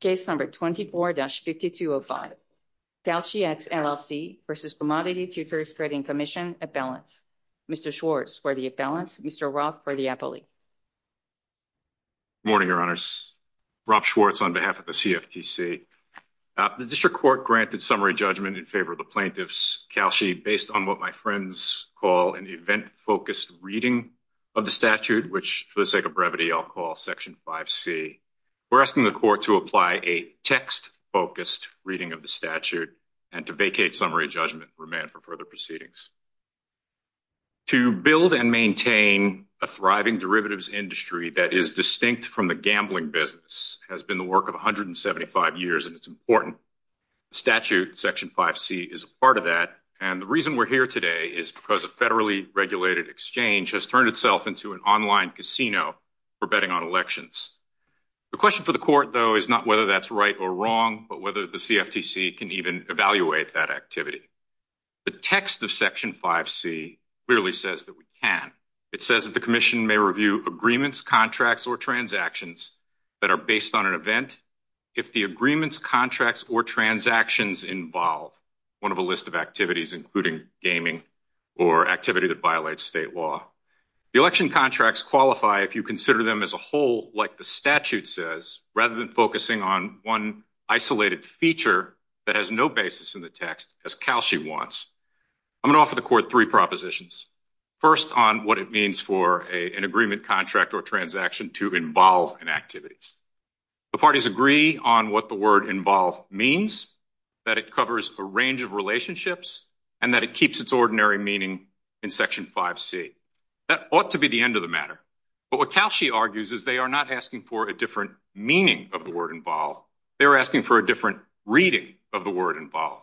Case number 24-5205, KalshiX LLC v. Commodity Tutors Trading Commission, Appellants. Mr. Schwartz for the appellants, Mr. Roth for the appellate. Morning, your honors. Rob Schwartz on behalf of the CFTC. The district court granted summary judgment in favor of the plaintiffs, Kalshi, based on what my friends call an event-focused reading of the statute, which for the sake of brevity, I'll call section 5C. We're asking the court to apply a text-focused reading of the statute and to vacate summary judgment and remand for further proceedings. To build and maintain a thriving derivatives industry that is distinct from the gambling business has been the work of 175 years, and it's important. The statute, section 5C, is a part of that. And the reason we're here today is because federally regulated exchange has turned itself into an online casino for betting on elections. The question for the court, though, is not whether that's right or wrong, but whether the CFTC can even evaluate that activity. The text of section 5C clearly says that we can. It says that the commission may review agreements, contracts, or transactions that are based on an event. If the agreements, contracts, or transactions involve one of a list of activities, including gaming or activity that violates state law, the election contracts qualify if you consider them as a whole, like the statute says, rather than focusing on one isolated feature that has no basis in the text, as Kalshi wants. I'm going to offer the court three propositions. First, on what it means for an agreement, contract, or transaction to involve in activities. The parties agree on what the word involve means, that it covers a range of relationships, and that it keeps its ordinary meaning in section 5C. That ought to be the end of the matter. But what Kalshi argues is they are not asking for a different meaning of the word involve. They're asking for a different reading of the word involve.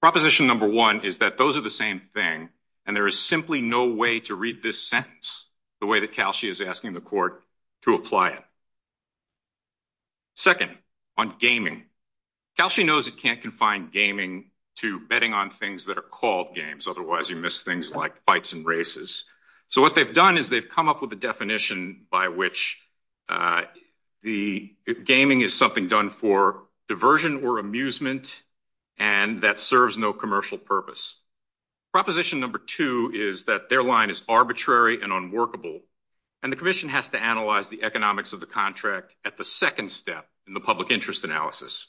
Proposition number one is that those are the same thing, and there is simply no way to read this sentence the way that Kalshi is asking the court to apply it. Second, on gaming. Kalshi knows it can't confine gaming to betting on things that are called games, otherwise you miss things like fights and races. So what they've done is they've come up with a definition by which the gaming is something done for diversion or amusement, and that serves no commercial purpose. Proposition number two is that their line is arbitrary and unworkable, and the commission has to analyze the economics of the contract at the second step in the public interest analysis.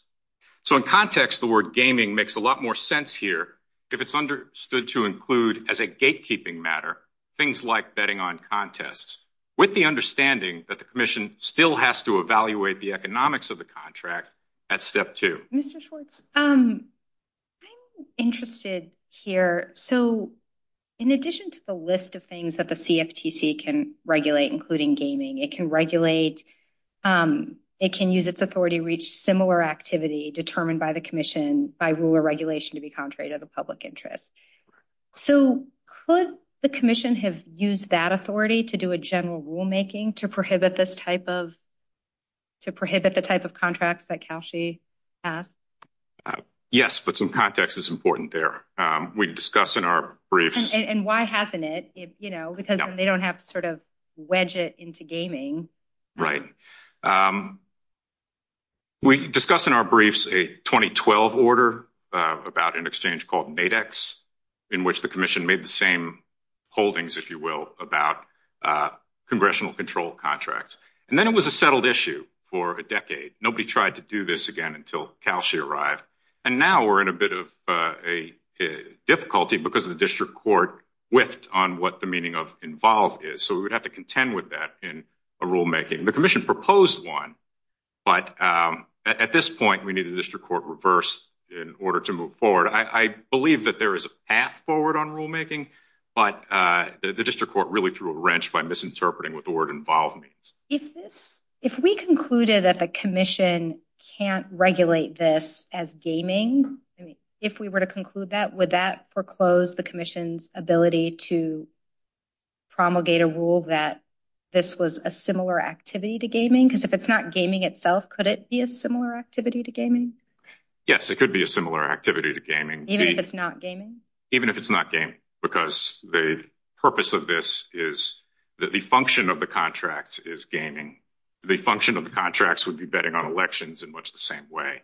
So in context, the word gaming makes a lot more sense here if it's understood to include as a gatekeeping matter things like betting on contests, with the understanding that the commission still has to evaluate the economics of the contract at step two. Mr. Schwartz, I'm interested here. So in addition to the list of things that the CFTC can regulate, including gaming, it can regulate, it can use its authority to reach similar activity determined by the commission by rule or regulation to be contrary to the public interest. So could the commission have used that authority to do a general rulemaking to prohibit this type of, to prohibit the type of contracts that Calshi has? Yes, but some context is important there. We discussed in our briefs. And why hasn't it, you know, because they don't have to sort of wedge it into gaming. Right. We discussed in our briefs a 2012 order about an exchange called NADEX in which the commission made the same holdings, if you will, about congressional control of contracts. And then it was a settled issue for a decade. Nobody tried to do this again until Calshi arrived. And now we're in a bit of a difficulty because the district court whiffed on what the meaning of involved is. So we would have to contend with that in a rulemaking. The commission proposed one, but at this point we needed the district court reversed in order to move forward. I believe that there is a path forward on rulemaking, but the district court really threw a wrench by misinterpreting what the word involved means. If we concluded that the commission can't regulate this as gaming, if we were to conclude that, would that foreclose the commission's ability to promulgate a rule that this was a similar activity to gaming? Because if it's not gaming itself, could it be a similar activity to gaming? Yes, it could be a similar activity to gaming. Even if it's not gaming? Even if it's not gaming. Because the purpose of this is that the function of the contract is gaming. The function of the contracts would be betting on elections in much the same way.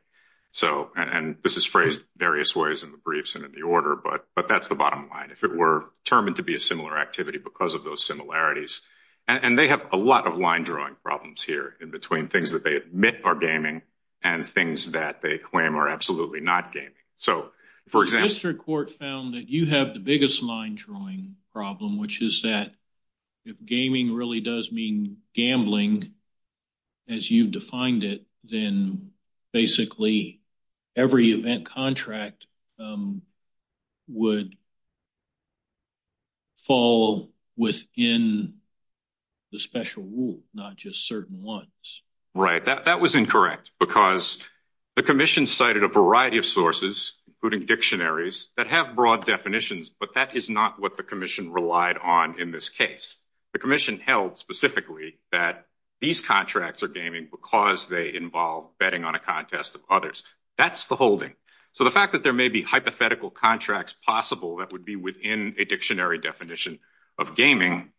So, and this is phrased various ways in the briefs and in the order, but that's the bottom line. If it were determined to be a similar activity because of those similarities, and they have a lot of line drawing problems here in between things that they admit are gaming and things that they claim are absolutely not gaming. So, for example... The district court found that you have the biggest line drawing problem, which is that if gaming really does mean gambling as you've defined it, then basically every event contract would fall within the special rule, not just certain ones. Right, that was incorrect because the commission cited a variety of sources, including dictionaries, that have broad definitions, but that is not what the commission relied on in this case. The commission held specifically that these contracts are gaming because they involve betting on a contest of others. That's the holding. So, the fact that there may be hypothetical contracts possible that would be within a dictionary definition of gaming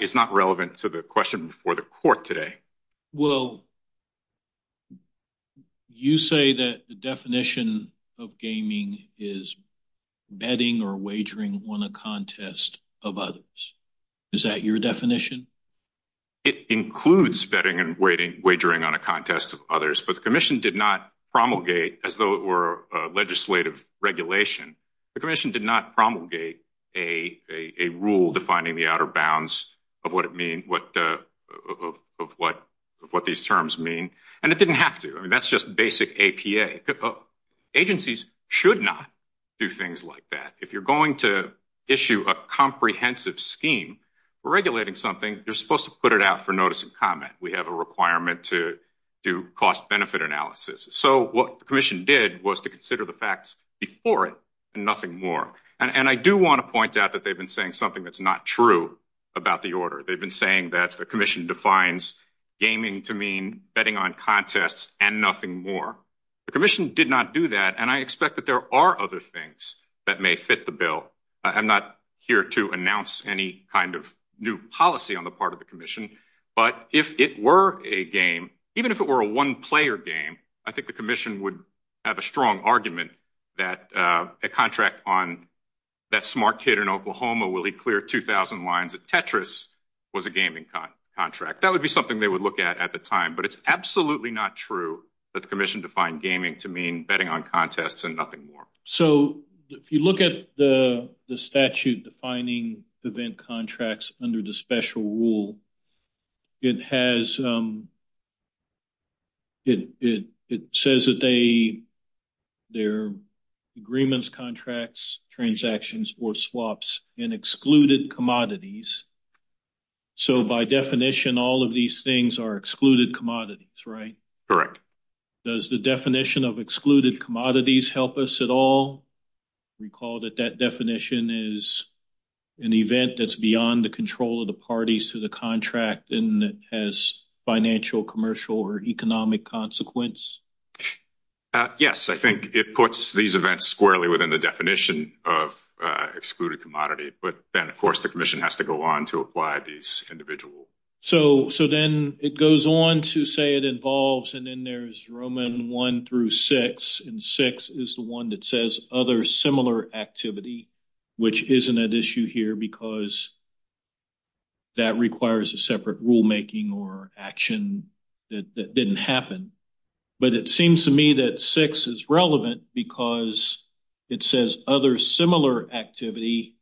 is not relevant to the question for the court today. Well, you say that the definition of gaming is betting or wagering on a contest of others. Is that your definition? It includes betting and wagering on a contest of others, but the commission did not promulgate, as though it were a legislative regulation, the commission did not promulgate a rule defining the outer bounds of what these terms mean, and it didn't have to. I mean, that's just basic APA. Agencies should not do things like that. If you're going to issue a comprehensive scheme for regulating something, you're supposed to put it out for notice and comment. We have a requirement to do cost benefit analysis. So, what the commission did was to consider the facts before it and nothing more. And I do want to point out that they've been saying something that's not true about the order. They've been saying that the commission defines gaming to mean betting on contests and nothing more. The commission did not do that, and I expect that there are other things that may fit the bill. I'm not here to announce any kind of new policy on the part of the commission, but if it were a game, even if it were a one-player game, I think the commission would have a strong argument that a contract on that smart kid in Oklahoma will he clear 2,000 lines at Tetris was a gaming contract. That would be something they would look at at the time, but it's absolutely not true that the commission defined gaming to mean betting on contests and nothing more. So, if you look at the statute defining event contracts under the special rule, it says that they're agreements, contracts, transactions, or swaps in excluded commodities. So, by definition, all of these things are excluded commodities, right? Correct. Does the definition of excluded commodities help us at all? Recall that that definition is an event that's beyond the control of the parties to the contract and that has financial, commercial, or economic consequence? Yes, I think it puts these events squarely within the definition of excluded commodity, but then, of course, the commission has to go on to apply these individual. So, then it goes on to say it involves, and then there's Roman 1 through 6, and 6 is the one that says other similar activity, which isn't an issue here because that requires a separate rulemaking or action that didn't happen, but it seems to me that 6 is relevant because it says other similar activity,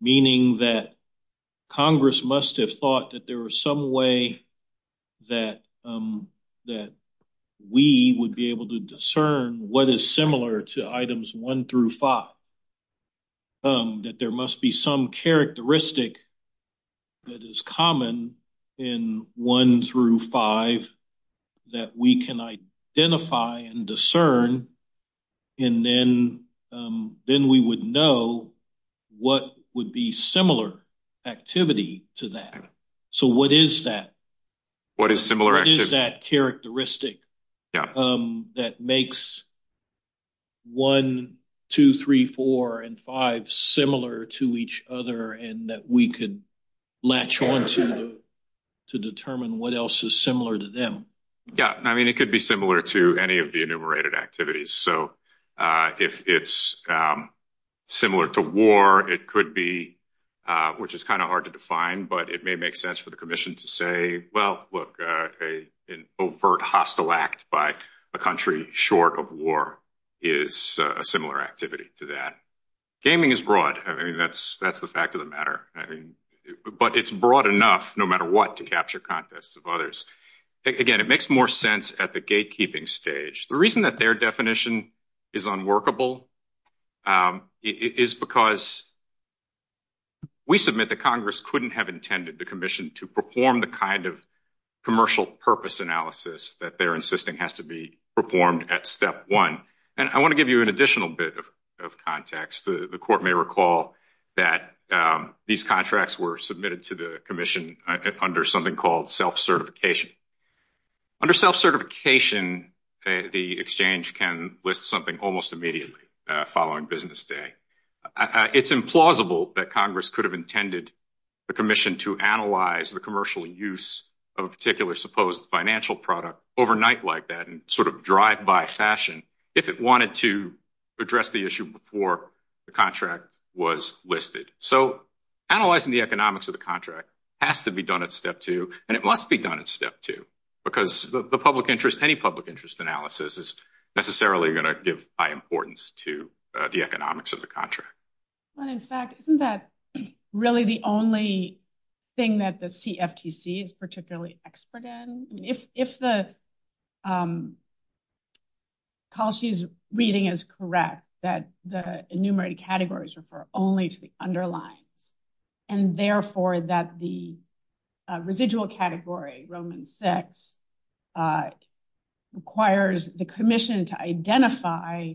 meaning that Congress must have thought that there was some way that we would be able to discern what is similar to items 1 through 5, that there must be some characteristic that is common in 1 through 5 that we can identify and discern, and then we would know what would be similar activity to that. So, what is that? What is similar activity? What is that characteristic that makes 1, 2, 3, 4, and 5 similar to each other and that we could latch on to to determine what else is similar to Yeah, I mean, it could be similar to any of the enumerated activities. So, if it's similar to war, it could be, which is kind of hard to define, but it may make sense for the commission to say, well, look, an overt hostile act by a country short of war is a similar activity to that. Gaming is broad. I mean, that's the fact of the matter, but it's broad enough, no matter what, to capture context of others. Again, it makes more sense at the gatekeeping stage. The reason that their definition is unworkable is because we submit that Congress couldn't have intended the commission to perform the kind of commercial purpose analysis that they're insisting has to be performed at step 1. And I want to give you an additional bit of context. The court may recall that these contracts were submitted to the commission under something called self-certification. Under self-certification, the exchange can list something almost immediately following business day. It's implausible that Congress could have intended the commission to analyze the commercial use of a particular supposed financial product overnight like that and sort of drive by fashion if it wanted to address the issue before the contract was listed. So analyzing the economics of the contract has to be done at step 2, and it must be done at step 2 because the public interest, any public interest analysis is necessarily going to give high importance to the economics of the contract. And in fact, isn't that really the only thing that the CFTC is particularly expert in? If Kalsi's reading is correct, that the enumerated categories refer only to the underlying, and therefore that the residual category, Roman sex, requires the commission to identify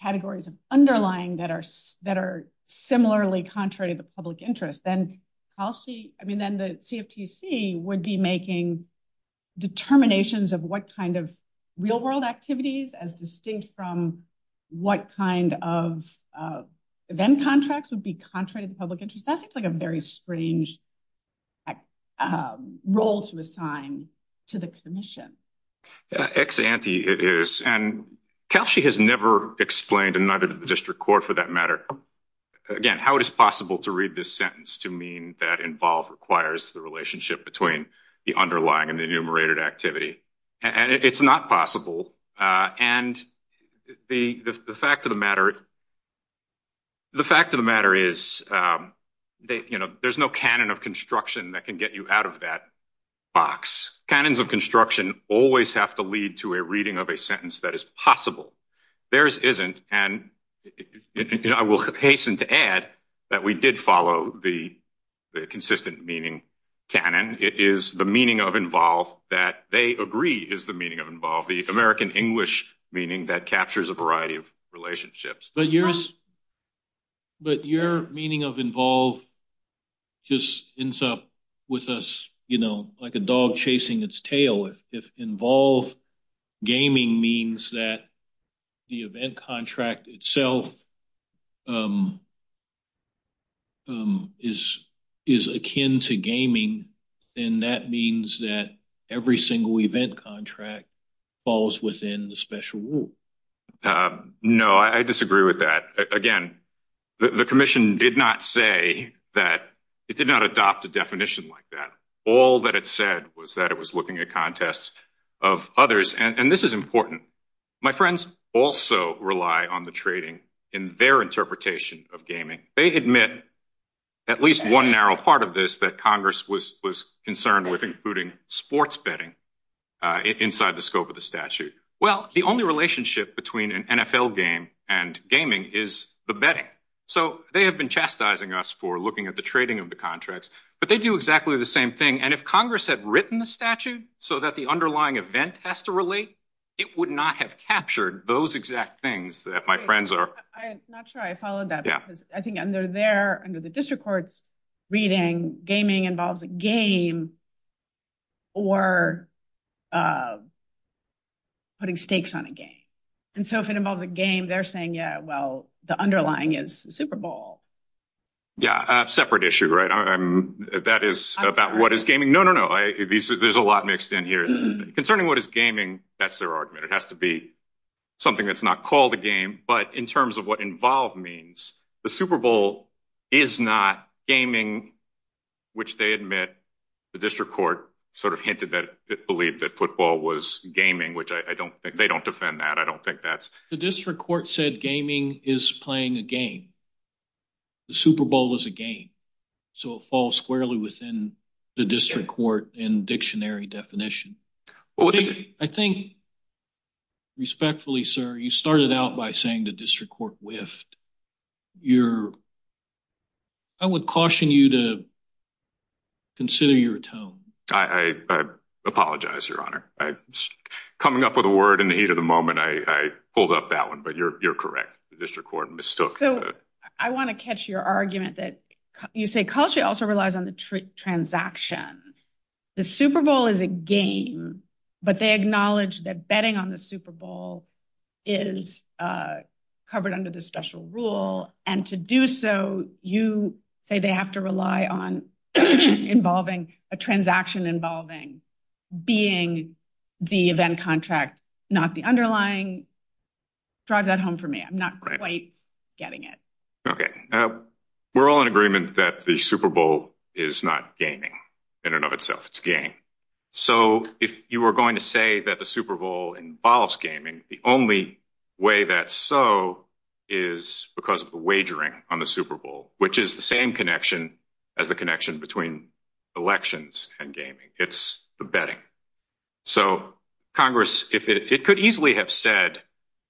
categories of underlying that are similarly contrary to the public interest, then I mean, then the CFTC would be making determinations of what kind of real world activities as distinct from what kind of then contracts would be contrary to public interest. That's like a very strange role to assign to the commission. Ex ante it is, and Kalsi has never explained another district court for that matter. Again, how it is possible to read this sentence to mean that involve requires the relationship between the underlying and enumerated activity, and it's not possible. And the fact of the matter is that there's no canon of construction that can get you out of that box. Canons of construction always have to lead to a reading of a sentence that is possible. Theirs isn't, and I will hasten to add that we did follow the consistent meaning canon. It is the meaning of involve that they agree is the meaning of involve, the American English meaning that captures a variety of relationships. But your meaning of involve just ends up with us, like a dog chasing its tail. If involve gaming means that the event contract itself is akin to gaming, then that means that every single event contract falls within the special rule. No, I disagree with that. Again, the commission did not say that, it did not adopt a definition like that. All that it said was that it was looking at contests of others, and this is important. My friends also rely on the trading in their interpretation of gaming. They admit at least one narrow part of this that Congress was concerned with, including sports betting inside the scope of the statute. Well, the only relationship between an NFL game and gaming is the betting. So they have been chastising us for looking at the trading of the contracts, but they do exactly the same thing. And if Congress had written the statute so that the underlying event has to relate, it would not have captured those exact things that my friends are. I'm not sure I followed that. I think under there, under the district court's reading, gaming involves a game or putting stakes on a game. And so if it involves a game, they're saying, yeah, well, the underlying is Super Bowl. Yeah, a separate issue, right? That is about what is gaming. No, no, no. There's a lot mixed in here. Concerning what is gaming, that's their argument. It has to be something that's not called a game. But in terms of what involved means, the Super Bowl is not gaming, which they admit, the district court sort of hinted that it believed that football was gaming, which I don't think they don't defend that. I said gaming is playing a game. The Super Bowl is a game. So it falls squarely within the district court in dictionary definition. I think, respectfully, sir, you started out by saying the district court whiffed. I would caution you to consider your tone. I apologize, your honor. Coming up with a word in the heat of the moment, I pulled up that one, but you're correct. The district court mistook. So I want to catch your argument that you say culture also relies on the transaction. The Super Bowl is a game, but they acknowledge that betting on the Super Bowl is covered under the special rule. And to do so, you say they have to rely on involving a transaction involving being the event contract, not the underlying. Drive that home for me. I'm not quite getting it. Okay. We're all in agreement that the Super Bowl is not gaming in and of itself. It's game. So if you are going to say that the Super Bowl involves gaming, the only way that's so is because of the wagering on the Super Bowl, which is the same connection as the connection between elections and gaming. It's the betting. So Congress, it could easily have said,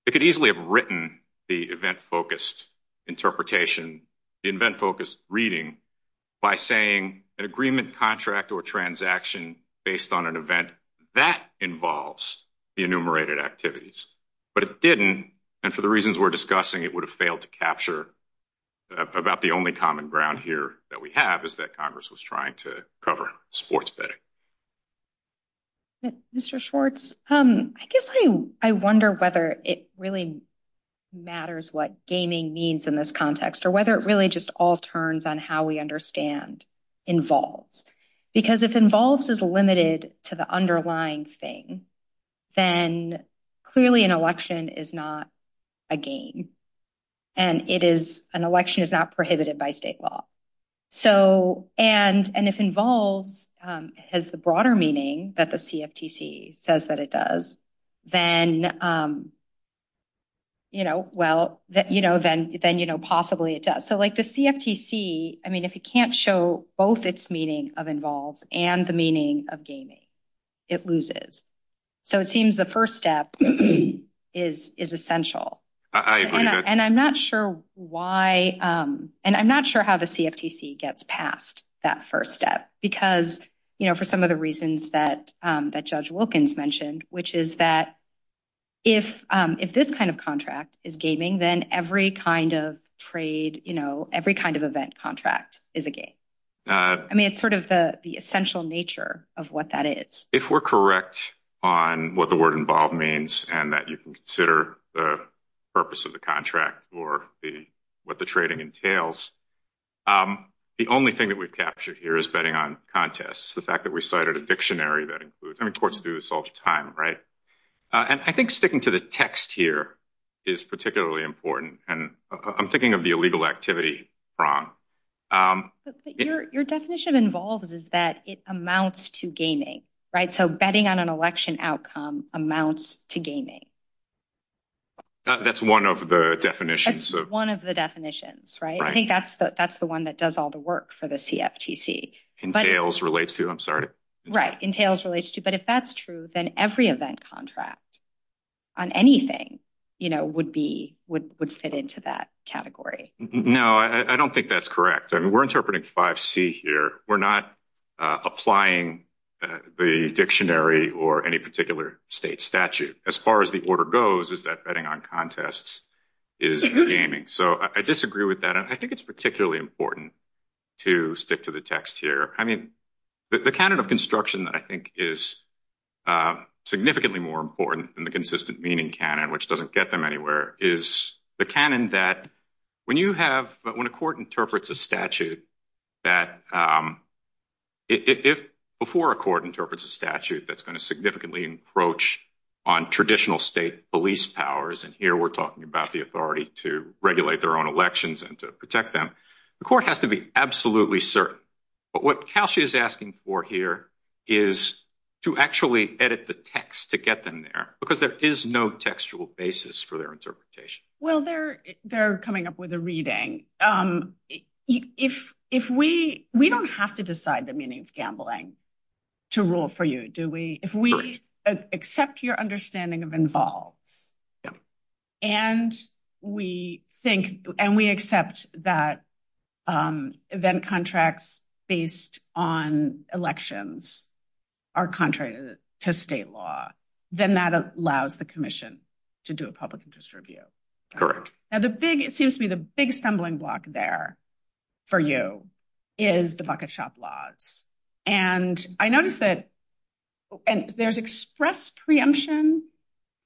it could easily have written the event-focused interpretation, the event-focused reading by saying an agreement, contract, or transaction based on an event that involves the enumerated activities. But it didn't. And for the reasons we're discussing, it would have failed to capture about the only common ground here that we have, is that Congress was trying to cover sports betting. Mr. Schwartz, I guess I wonder whether it really matters what gaming means in this context, or whether it really just all turns on how we understand involved. Because if involved is limited to the underlying thing, then clearly an election is not a game. And it is, an election is not prohibited by state law. So, and if involved has the broader meaning that the CFTC says that it does, then, you know, well, then, you know, possibly it does. So like the CFTC, I mean, if it can't show both its meaning of involved and the meaning of gaming, it loses. So it seems the first step is essential. And I'm not sure why, and I'm not sure how the CFTC gets past that first step, because, you know, for some of the reasons that Judge Wilkins mentioned, which is that if this kind of contract is gaming, then every kind of trade, you know, every kind of event contract is a game. I mean, it's sort of the essential nature of what that is. If we're correct on what the word involved means, and that you can consider the purpose of the contract or what the trading entails, the only thing that we've captured here is betting on contests. The fact that we cited a dictionary that includes, I mean, courts do this all the time, right? And I think sticking to the text here is particularly important. And I'm thinking of the activity. Your definition of involved is that it amounts to gaming, right? So betting on an election outcome amounts to gaming. That's one of the definitions. That's one of the definitions, right? I think that's the one that does all the work for the CFTC. Entails relates to, I'm sorry. Right. Entails relates to, but if that's true, then every event contract on anything, you know, would fit into that category. No, I don't think that's correct. I mean, we're interpreting 5C here. We're not applying the dictionary or any particular state statute. As far as the order goes is that betting on contests is gaming. So I disagree with that. And I think it's particularly important to stick to the text here. I mean, the canon of construction I think is significantly more important than the consistent meaning canon, which doesn't get them anywhere, is the canon that when you have, but when a court interprets a statute, that if before a court interprets a statute, that's going to significantly encroach on traditional state police powers. And here we're talking about the authority to regulate their own elections and to protect them. The court has to be absolutely certain. But what Kelshi is asking for here is to actually edit the text to get them there because there is no textual basis for their interpretation. Well, they're coming up with a reading. If we, we don't have to decide the meaning of gambling to rule for you, do we? If we accept your understanding of involved in a public interest review, and we think, and we accept that event contracts based on elections are contrary to state law, then that allows the commission to do a public interest review. Correct. Now the big, it seems to be the big stumbling block there for you is the bucket shop laws. And I noticed that there's express preemption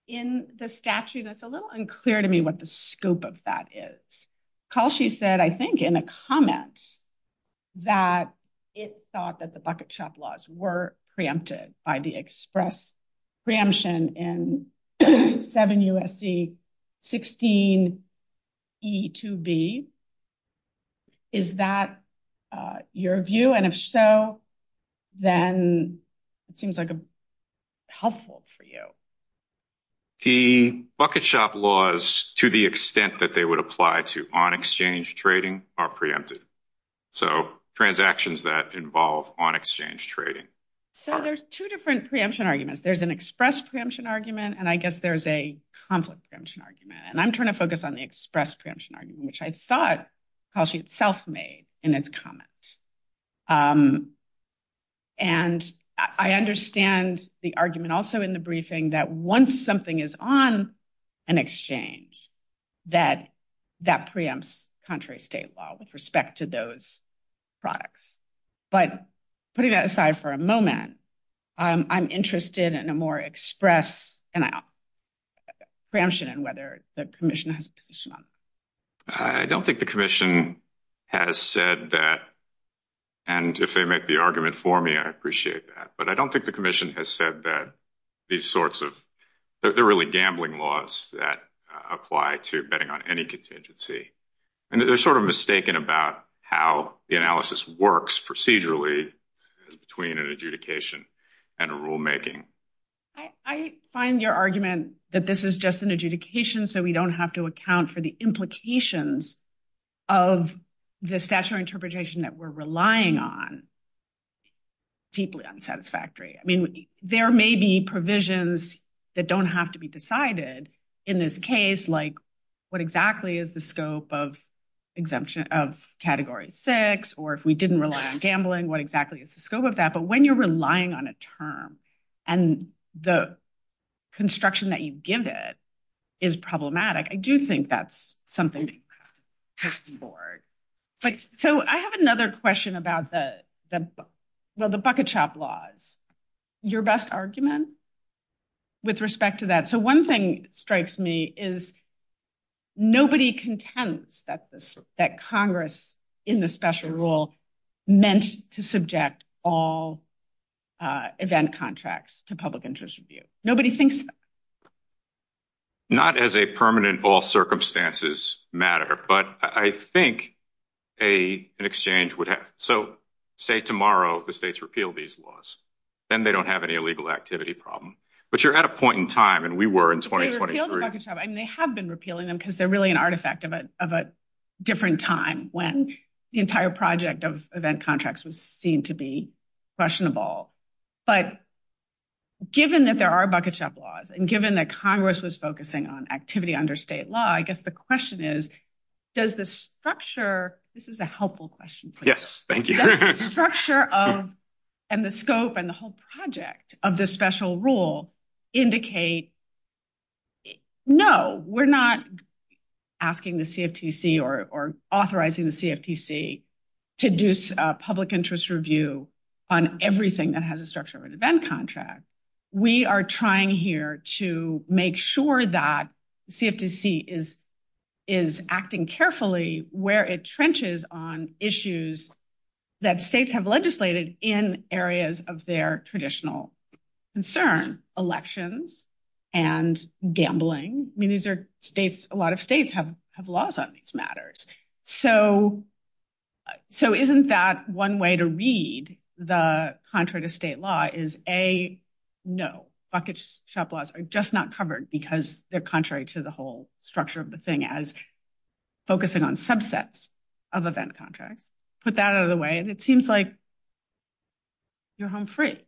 in the statute. It's a little unclear to me what the scope of that is. Kelshi said, I think in a comment that it thought that the bucket shop law was to the extent that they would apply to on exchange trading are preempted. So transactions that involve on exchange trading. So there's two different preemption arguments. There's an express preemption argument, and I guess there's a conflict preemption argument. And I'm trying to focus on the express preemption argument, which I thought Kelshi itself made in its comments. And I understand the argument also in the briefing that once something is on an exchange, that that preempts contrary state law with respect to those products. But putting that aside for a moment, I'm interested in a more express preemption argument. And I'm interested in whether the commission has a position on that. I don't think the commission has said that. And if they make the argument for me, I appreciate that. But I don't think the commission has said that these sorts of, that they're really gambling laws that apply to betting on any contingency. And they're sort of mistaken about how the analysis works procedurally between an adjudication and a rulemaking. I find your argument that this is just an adjudication, so we don't have to account for the implications of the special interpretation that we're relying on deeply unsatisfactory. I mean, there may be provisions that don't have to be decided in this case, like what exactly is the scope of category six, or if we didn't rely on gambling, what exactly is the scope of that. But when you're relying on a term and the construction that you give it is problematic, I do think that's something to be cast aboard. So I have another question about the, well, the bucket shop laws, your best argument with respect to that. So one thing strikes me is nobody contends that Congress in the special rule meant to subject all event contracts to public interest review. Nobody thinks- Not as a permanent all circumstances matter, but I think an exchange would have, so say tomorrow the states repeal these laws, then they don't have any illegal activity problem. But you're at a point in time, and we were in 2023- They have been repealing them because they're really artifact of a different time when the entire project of event contracts was seen to be question of all. But given that there are bucket shop laws and given that Congress was focusing on activity under state law, I guess the question is, does the structure, this is a helpful question. Yes, thank you. Does the structure and the scope and the whole project of this special rule indicate, no, we're not asking the CFTC or authorizing the CFTC to do a public interest review on everything that has a structure of an event contract. We are trying here to make sure that CFTC is acting carefully where it trenches on issues that states have legislated in areas of their traditional concern, elections and gambling. I mean, a lot of states have laws on these matters. So isn't that one way to read the contrary to state law is A, no, bucket shop laws are just not covered because they're contrary to the whole structure of the thing as focusing on of event contracts. Put that out of the way and it seems like you're home free.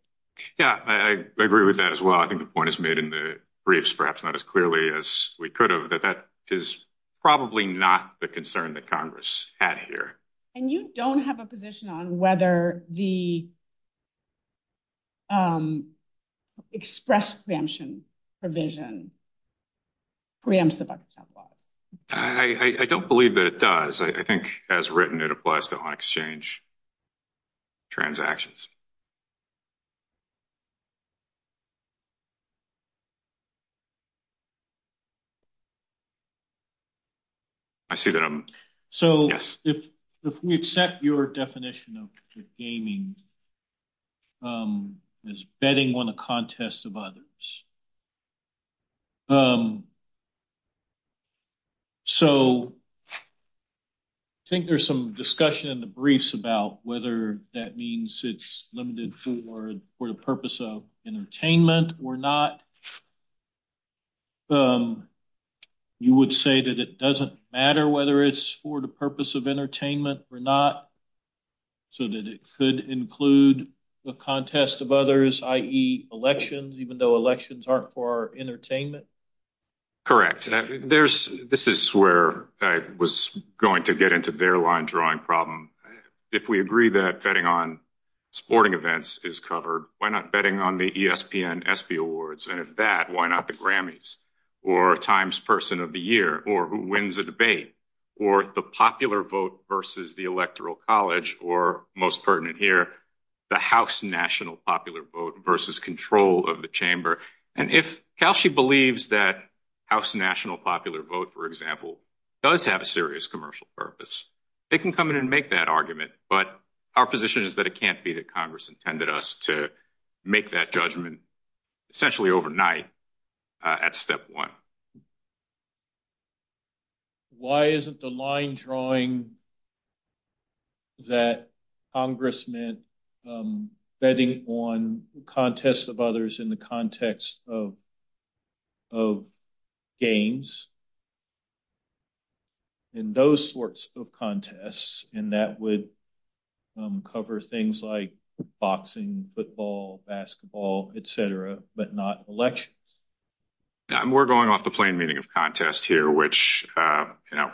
Yeah, I agree with that as well. I think the point is made in the briefs, perhaps not as clearly as we could have, but that is probably not the concern that Congress had here. And you don't have a position on whether the express exemption provision preempts the bucket as I think as written, it applies to all exchange transactions. So if we accept your definition of gaming as betting on a contest of others. So I think there's some discussion in the briefs about whether that means it's limited for the purpose of entertainment or not. You would say that it doesn't matter whether it's for the purpose of entertainment or not. So that it could include the contest of others, i.e. elections, even though elections aren't for entertainment. Correct. This is where I was going to get into their line drawing problem. If we agree that betting on sporting events is covered, why not betting on the ESPN, ESPY awards? And if that, why not the Grammys or Times Person of the Year or who wins a debate or the popular vote versus the electoral college or most pertinent here, the house national popular vote versus control of the chamber. And if Cal, she believes that house national popular vote, for example, does have a serious commercial purpose, they can come in and make that argument. But our position is that it can't be that Congress intended us to make that judgment essentially overnight at step one. Why isn't the line drawing that Congress meant betting on contests of others in the context of games and those sorts of contests, and that would cover things like boxing, football, basketball, et cetera, but not elections. We're going off the plain meaning of contest here, which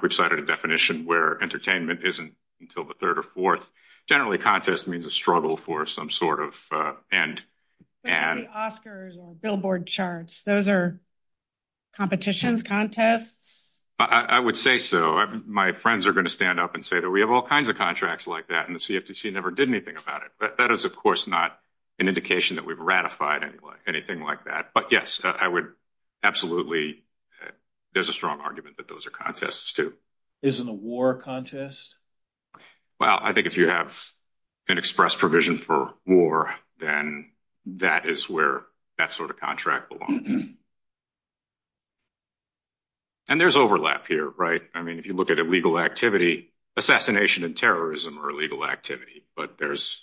we've cited a definition where entertainment isn't until the third or fourth. Generally, contest means a struggle for some sort of end. Oscars or billboard charts, those are competitions, contests? I would say so. My friends are going to stand up and say that we have all kinds of contracts like that and the CFTC never did anything about it. But that is, of course, not an indication that we've ratified anything like that. But yes, I would absolutely, there's a strong argument that those are contests too. Isn't a war contest? Well, I think if you have an express provision for war, then that is where that sort of contract belongs. And there's overlap here, right? I mean, if you look at illegal activity, assassination and terrorism are illegal activity, but there's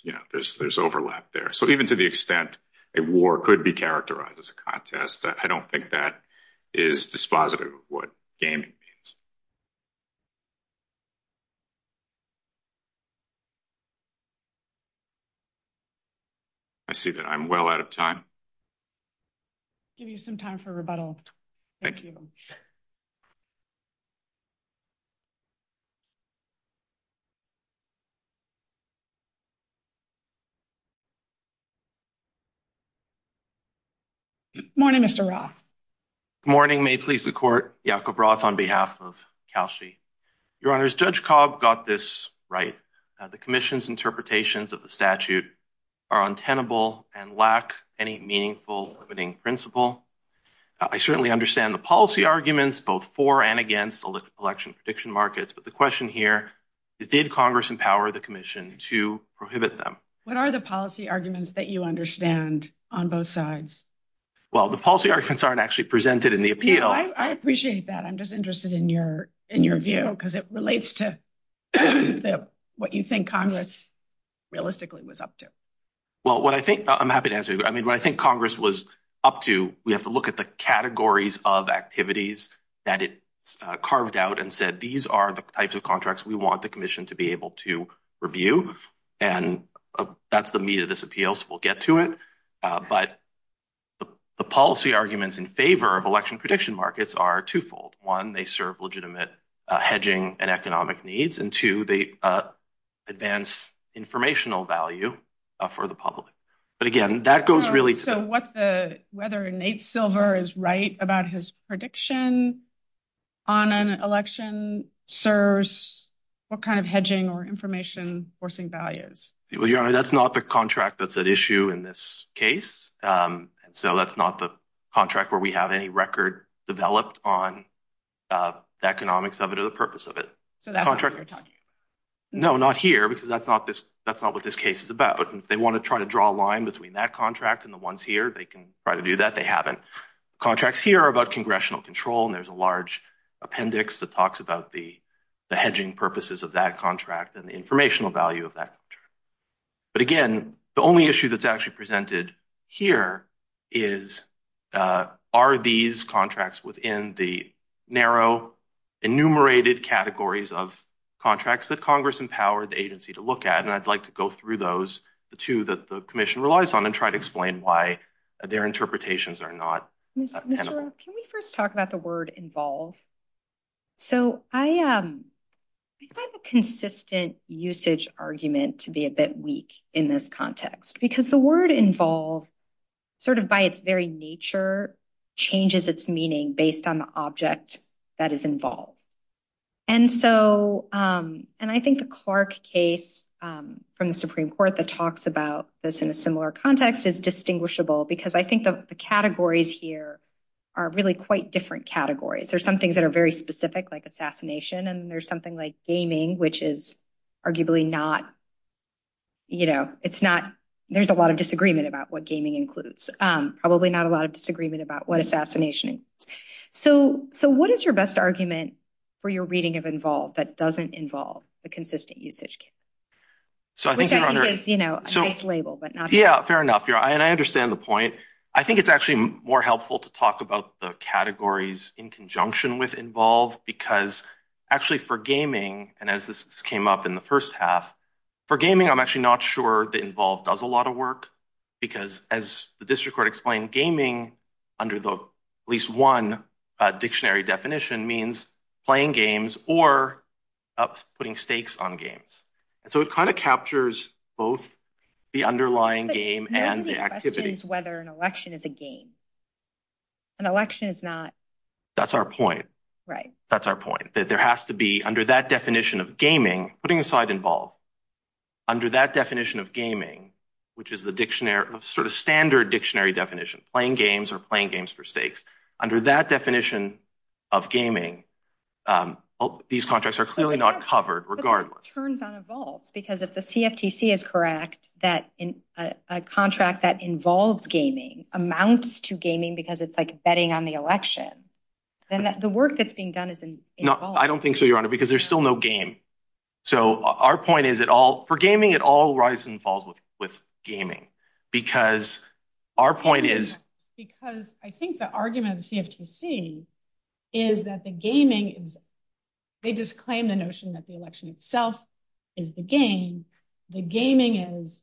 overlap there. So even to the extent a war could be characterized as a contest, I don't think that is dispositive of what gaming means. I see that I'm well out of time. I'll give you some time for rebuttal. Good morning, Mr. Roth. Good morning. May it please the court, Yakob Roth on behalf of CALSI. Your honors, Judge Cobb got this right. The commission's interpretations of the statute are untenable and lack any meaningful limiting principle. I certainly understand the policy arguments both for and against illicit collection prediction markets. But the question here is, did Congress empower the commission to prohibit them? What are the policy arguments that you understand on both sides? Well, the policy arguments aren't actually presented in the appeal. I appreciate that. I'm just interested in your view because it relates to the, what you think Congress realistically was up to. Well, what I think, I'm happy to answer. I mean, what I think Congress was up to, we have to look at the categories of activities that it carved out and said, these are the types of contracts we want the commission to be able to review. And that's the meat of this appeals. We'll get to it. But the policy arguments in favor of election prediction markets are twofold. One, they serve legitimate hedging and economic needs. And two, they advance informational value for the public. But again, that goes really- So what the, whether Nate Silver is right about his prediction on an election serves what kind of hedging or information forcing values? Well, your honor, that's not the contract that's at issue in this case. So that's not the contract where we have any record developed on the economics of it or the purpose of it. So that's what you're talking about? No, not here because that's not what this case is about. But if they want to try to draw a line between that contract and the ones here, they can try to do that. They haven't. Contracts here are about congressional control and there's a large appendix that talks about the hedging purposes of that contract and the informational value of that. But again, the only issue that's actually here is, are these contracts within the narrow enumerated categories of contracts that Congress empowered the agency to look at? And I'd like to go through those, the two that the commission relies on and try to explain why their interpretations are not- Can we first talk about the word involve? So I find the consistent usage argument to be a bit weak in this context because the word involve, sort of by its very nature, changes its meaning based on the object that is involved. And I think the Clark case from the Supreme Court that talks about this in a similar context is distinguishable because I think the categories here are really quite different categories. There's some things that are very specific like assassination and there's something like gaming, which is arguably not, you know, it's not, there's a lot of disagreement about what gaming includes. Probably not a lot of disagreement about what assassination is. So what is your best argument for your reading of involve that doesn't involve the consistent usage case? Which I think is, you know, a nice label but not- Yeah, fair enough. And I understand the point. I think it's actually more helpful to talk about the categories in conjunction with involve because actually for gaming, and as this came up in the first half, for gaming I'm actually not sure the involve does a lot of work because as the district court explained, gaming under the at least one dictionary definition means playing games or putting stakes on games. So it kind of captures both the underlying game and the whether an election is a game. An election is not- That's our point. Right. That's our point that there has to be under that definition of gaming, putting aside involve, under that definition of gaming, which is the dictionary, sort of standard dictionary definition, playing games or playing games for stakes. Under that definition of gaming, these contracts are clearly not covered regardless. Because if the CFTC is correct that a contract that involves gaming amounts to gaming because it's like betting on the election, then the work that's being done is involved. I don't think so, Your Honor, because there's still no game. So our point is for gaming, it all rise and falls with gaming because our point is- Because I think the argument of CFTC is that the gaming, they just claim the notion that the is the game. The gaming is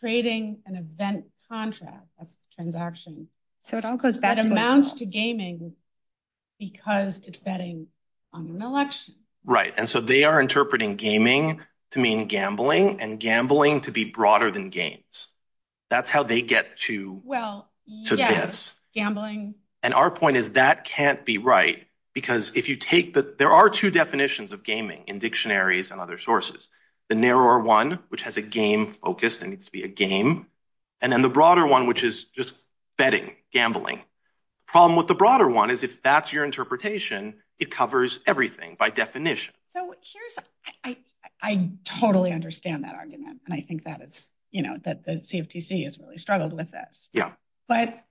trading an event contract, a transaction- So it all goes back to- That amounts to gaming because it's betting on an election. Right. And so they are interpreting gaming to mean gambling and gambling to be broader than games. That's how they get to this. Well, yes. Gambling. And our point is that can't be right because if you take the, there are two definitions of gaming in dictionaries and other sources, the narrower one, which has a game focus and needs to be a game, and then the broader one, which is just betting, gambling. Problem with the broader one is if that's your interpretation, it covers everything by definition. So here's, I totally understand that argument. And I think that it's, you know, that the CFTC has really struggled with this. But,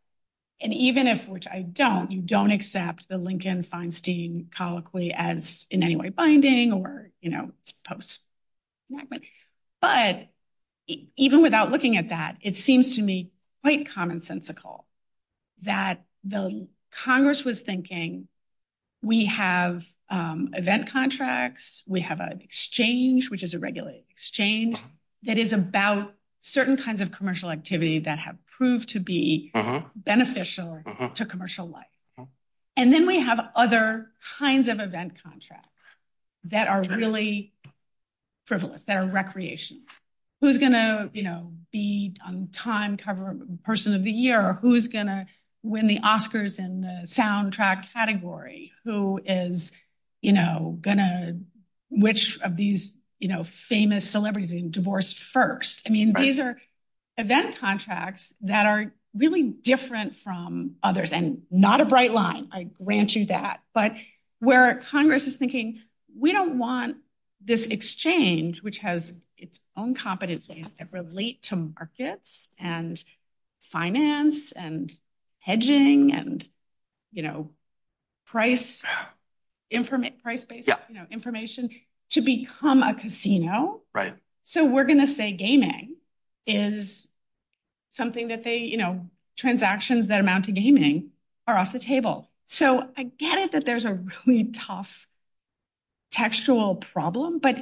and even if, which I don't, you don't accept the Lincoln-Feinstein colloquy as in any way binding or, you know, post. But even without looking at that, it seems to me quite commonsensical that the Congress was thinking, we have event contracts, we have an exchange, which is a regulated exchange that is about certain kinds of commercial activity that have proved to be beneficial to commercial life. And then we have other kinds of event contracts that are really frivolous, that are recreations. Who's going to, you know, be on time cover person of the year? Or who's going to win the Oscars in the soundtrack category? Who is, you know, going to, which of these, you know, famous celebrities being divorced first? I mean, these are event contracts that are really different from others and not a bright line. I grant you that. But where Congress is thinking, we don't want this exchange, which has its own competency that relate to markets and finance and hedging and, you know, price, information, information to become a casino. So we're going to say gaming is something that they, you know, transactions that amount to gaming are off the table. So I get it that there's a really tough textual problem, but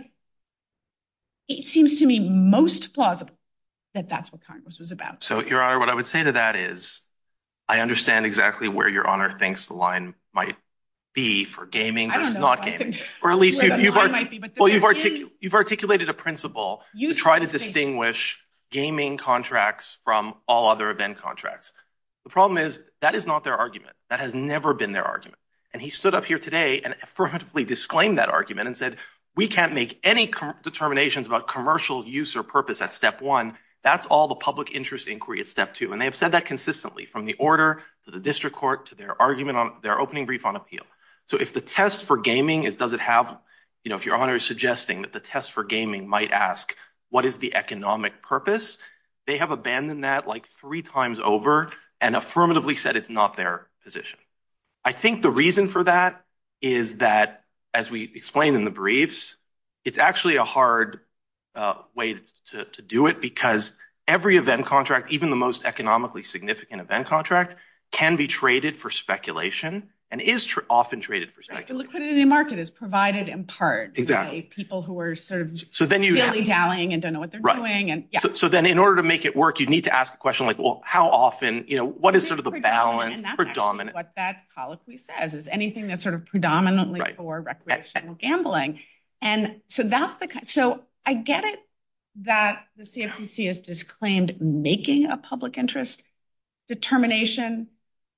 it seems to me most plausible that that's what Congress was about. So Your Honor, what I would say to that is, I understand exactly where Your Honor thinks the might be for gaming versus not gaming. Or at least you've articulated a principle to try to distinguish gaming contracts from all other event contracts. The problem is that is not their argument. That has never been their argument. And he stood up here today and affirmatively disclaimed that argument and said, we can't make any determinations about commercial use or purpose at step one. That's all the public interest inquiry at step two. And they've said that from the order to the district court, to their argument on their opening brief on appeal. So if the test for gaming, it doesn't have, you know, if Your Honor is suggesting that the test for gaming might ask, what is the economic purpose? They have abandoned that like three times over and affirmatively said it's not their position. I think the reason for that is that as we explained in the briefs, it's actually a hard way to do it because every event contract, even the most economically significant event contract can be traded for speculation and is often traded for speculation. The liquidity market is provided in part by people who are fairly galling and don't know what they're doing. So then in order to make it work, you need to ask a question like, well, how often, you know, what is sort of the balance or dominant? What that policy says is anything that's sort of predominantly for recreational gambling. So I get it that the CFTC has claimed making a public interest determination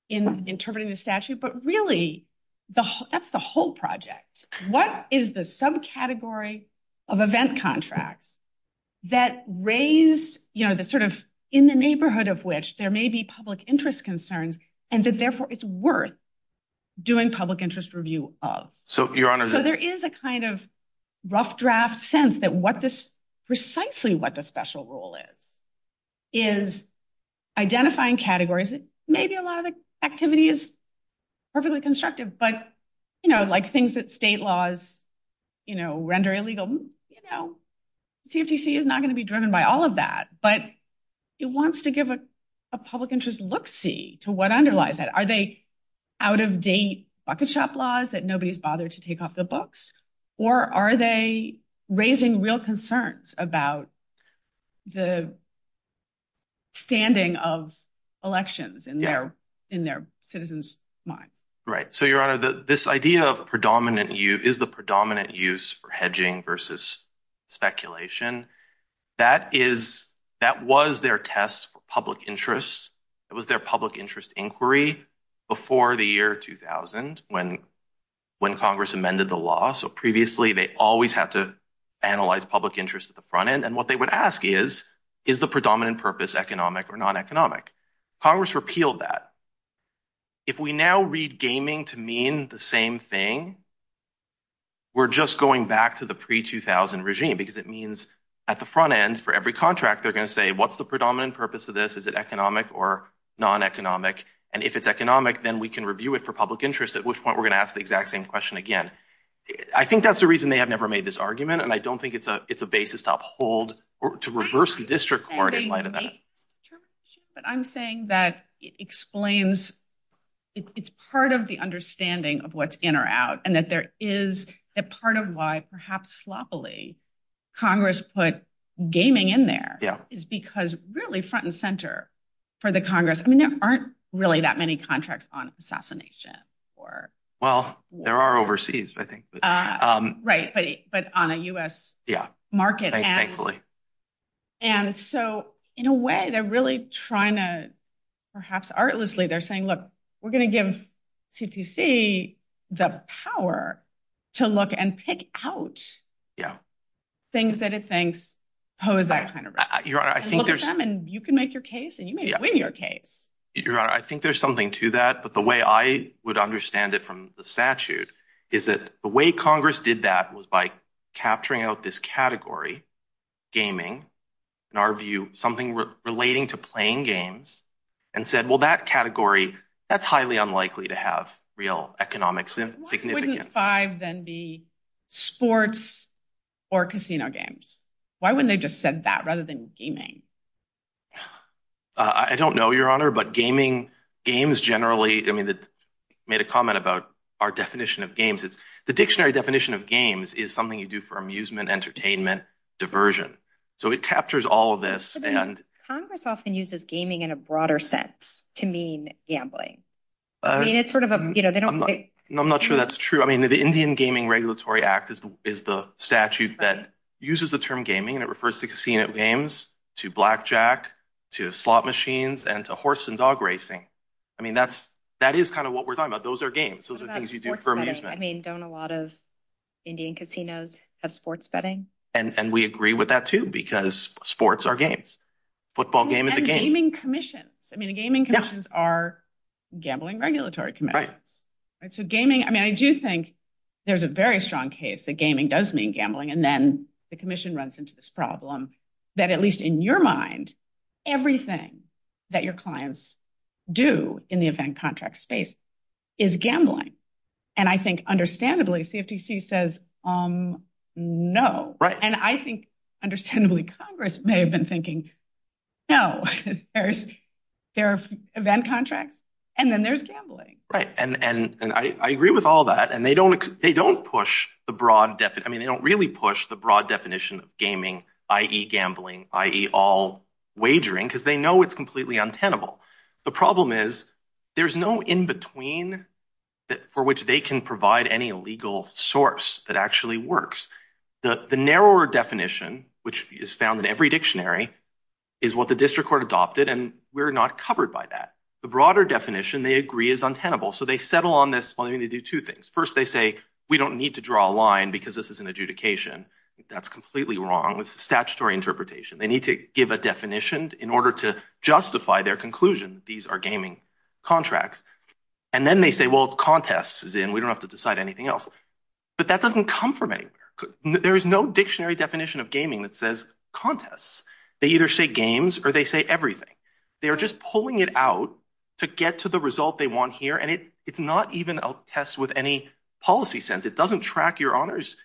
in interpreting the statute, but really that's the whole project. What is the subcategory of event contracts that raised, you know, the sort of in the neighborhood of which there may be public interest concerns and that therefore it's worth doing public interest review of? So there is a kind of rough draft sense that what precisely what the special rule is, is identifying categories. Maybe a lot of activity is perfectly constructive, but, you know, like things that state laws, you know, render illegal, you know, CFTC is not going to be driven by all of that, but it wants to give a public interest look-see to what underlies that. Are they out-of-date bucket shop laws that nobody's bothered to take off the books or are they raising real concerns about the standing of elections in their citizens' mind? Right. So, Your Honor, this idea of predominant use is the predominant use for hedging versus speculation. That was their test public interest. It was their public interest inquiry before the year 2000 when Congress amended the law. So previously, they always had to analyze public interest at the front end and what they would ask is, is the predominant purpose economic or non-economic? Congress repealed that. If we now read gaming to mean the same thing, we're just going back to the pre-2000 regime because it means at the front end for every contract, they're going to say, what's the predominant purpose of this? Is it economic? And if it's economic, then we can review it for public interest at which point we're going to ask the exact same question again. I think that's the reason they have never made this argument and I don't think it's a basis to uphold or to reverse the district court in light of that. But I'm saying that it explains, it's part of the understanding of what's in or out and that there is a part of why perhaps sloppily Congress put gaming in there is because really for the Congress, I mean, there aren't really that many contracts on assassination or... Well, there are overseas, I think. Right, but on a US market. And so in a way, they're really trying to perhaps artlessly, they're saying, look, we're going to give TTC the power to look and pick out things that it thinks pose that kind of risk. Your Honor, I think there's... You can make your case and you may win your case. I think there's something to that, but the way I would understand it from the statute is that the way Congress did that was by capturing out this category, gaming, in our view, something relating to playing games and said, well, that category, that's highly unlikely to have real economic significance. Why wouldn't five then be sports or casino games? Why wouldn't they just said that rather than gaming? I don't know, Your Honor, but gaming, games generally, I mean, made a comment about our definition of games. It's the dictionary definition of games is something you do for amusement, entertainment, diversion. So it captures all of this and... Congress often uses gaming in a broader sense to mean gambling. I mean, it's sort of a... I'm not sure that's true. I mean, the Indian Gaming Regulatory Act is the statute that uses the term gaming and it refers to casino games, to blackjack, to slot machines, and to horse and dog racing. I mean, that is kind of what we're talking about. Those are games. Those are things you do for amusement. I mean, don't a lot of Indian casinos have sports betting? And we agree with that too, because sports are games. Football game is a game. And gaming commissions. I mean, gaming commissions are gambling regulatory committees. So gaming, I mean, I do think there's a very strong case that gaming does mean gambling. And then the commission runs into this problem that at least in your mind, everything that your clients do in the event contract space is gambling. And I think understandably, CFTC says, um, no. And I think understandably, Congress may have been thinking, no, there are event contracts and then there's gambling. Right. And I agree with all that. And they don't push the broad definition. I mean, they don't really push the broad definition of gaming, i.e. gambling, i.e. all wagering, because they know it's completely untenable. The problem is there's no in-between for which they can provide any legal source that actually works. The narrower definition, which is found in every dictionary, is what the district court adopted. And we're not covered by that. The broader definition they agree is untenable. So they settle on this. Well, they're going to do two things. First, they say, we don't need to draw a line because this is an adjudication. That's completely wrong. It's a statutory interpretation. They need to give a definition in order to justify their conclusion. These are gaming contracts. And then they say, well, contest is in, we don't have to decide anything else. But that doesn't come from anything. There is no dictionary definition of gaming that says contests. They either say games or they say everything. They're just pulling it out to get to the result they want here. And it's not even a test with any policy sense. It doesn't track your honor's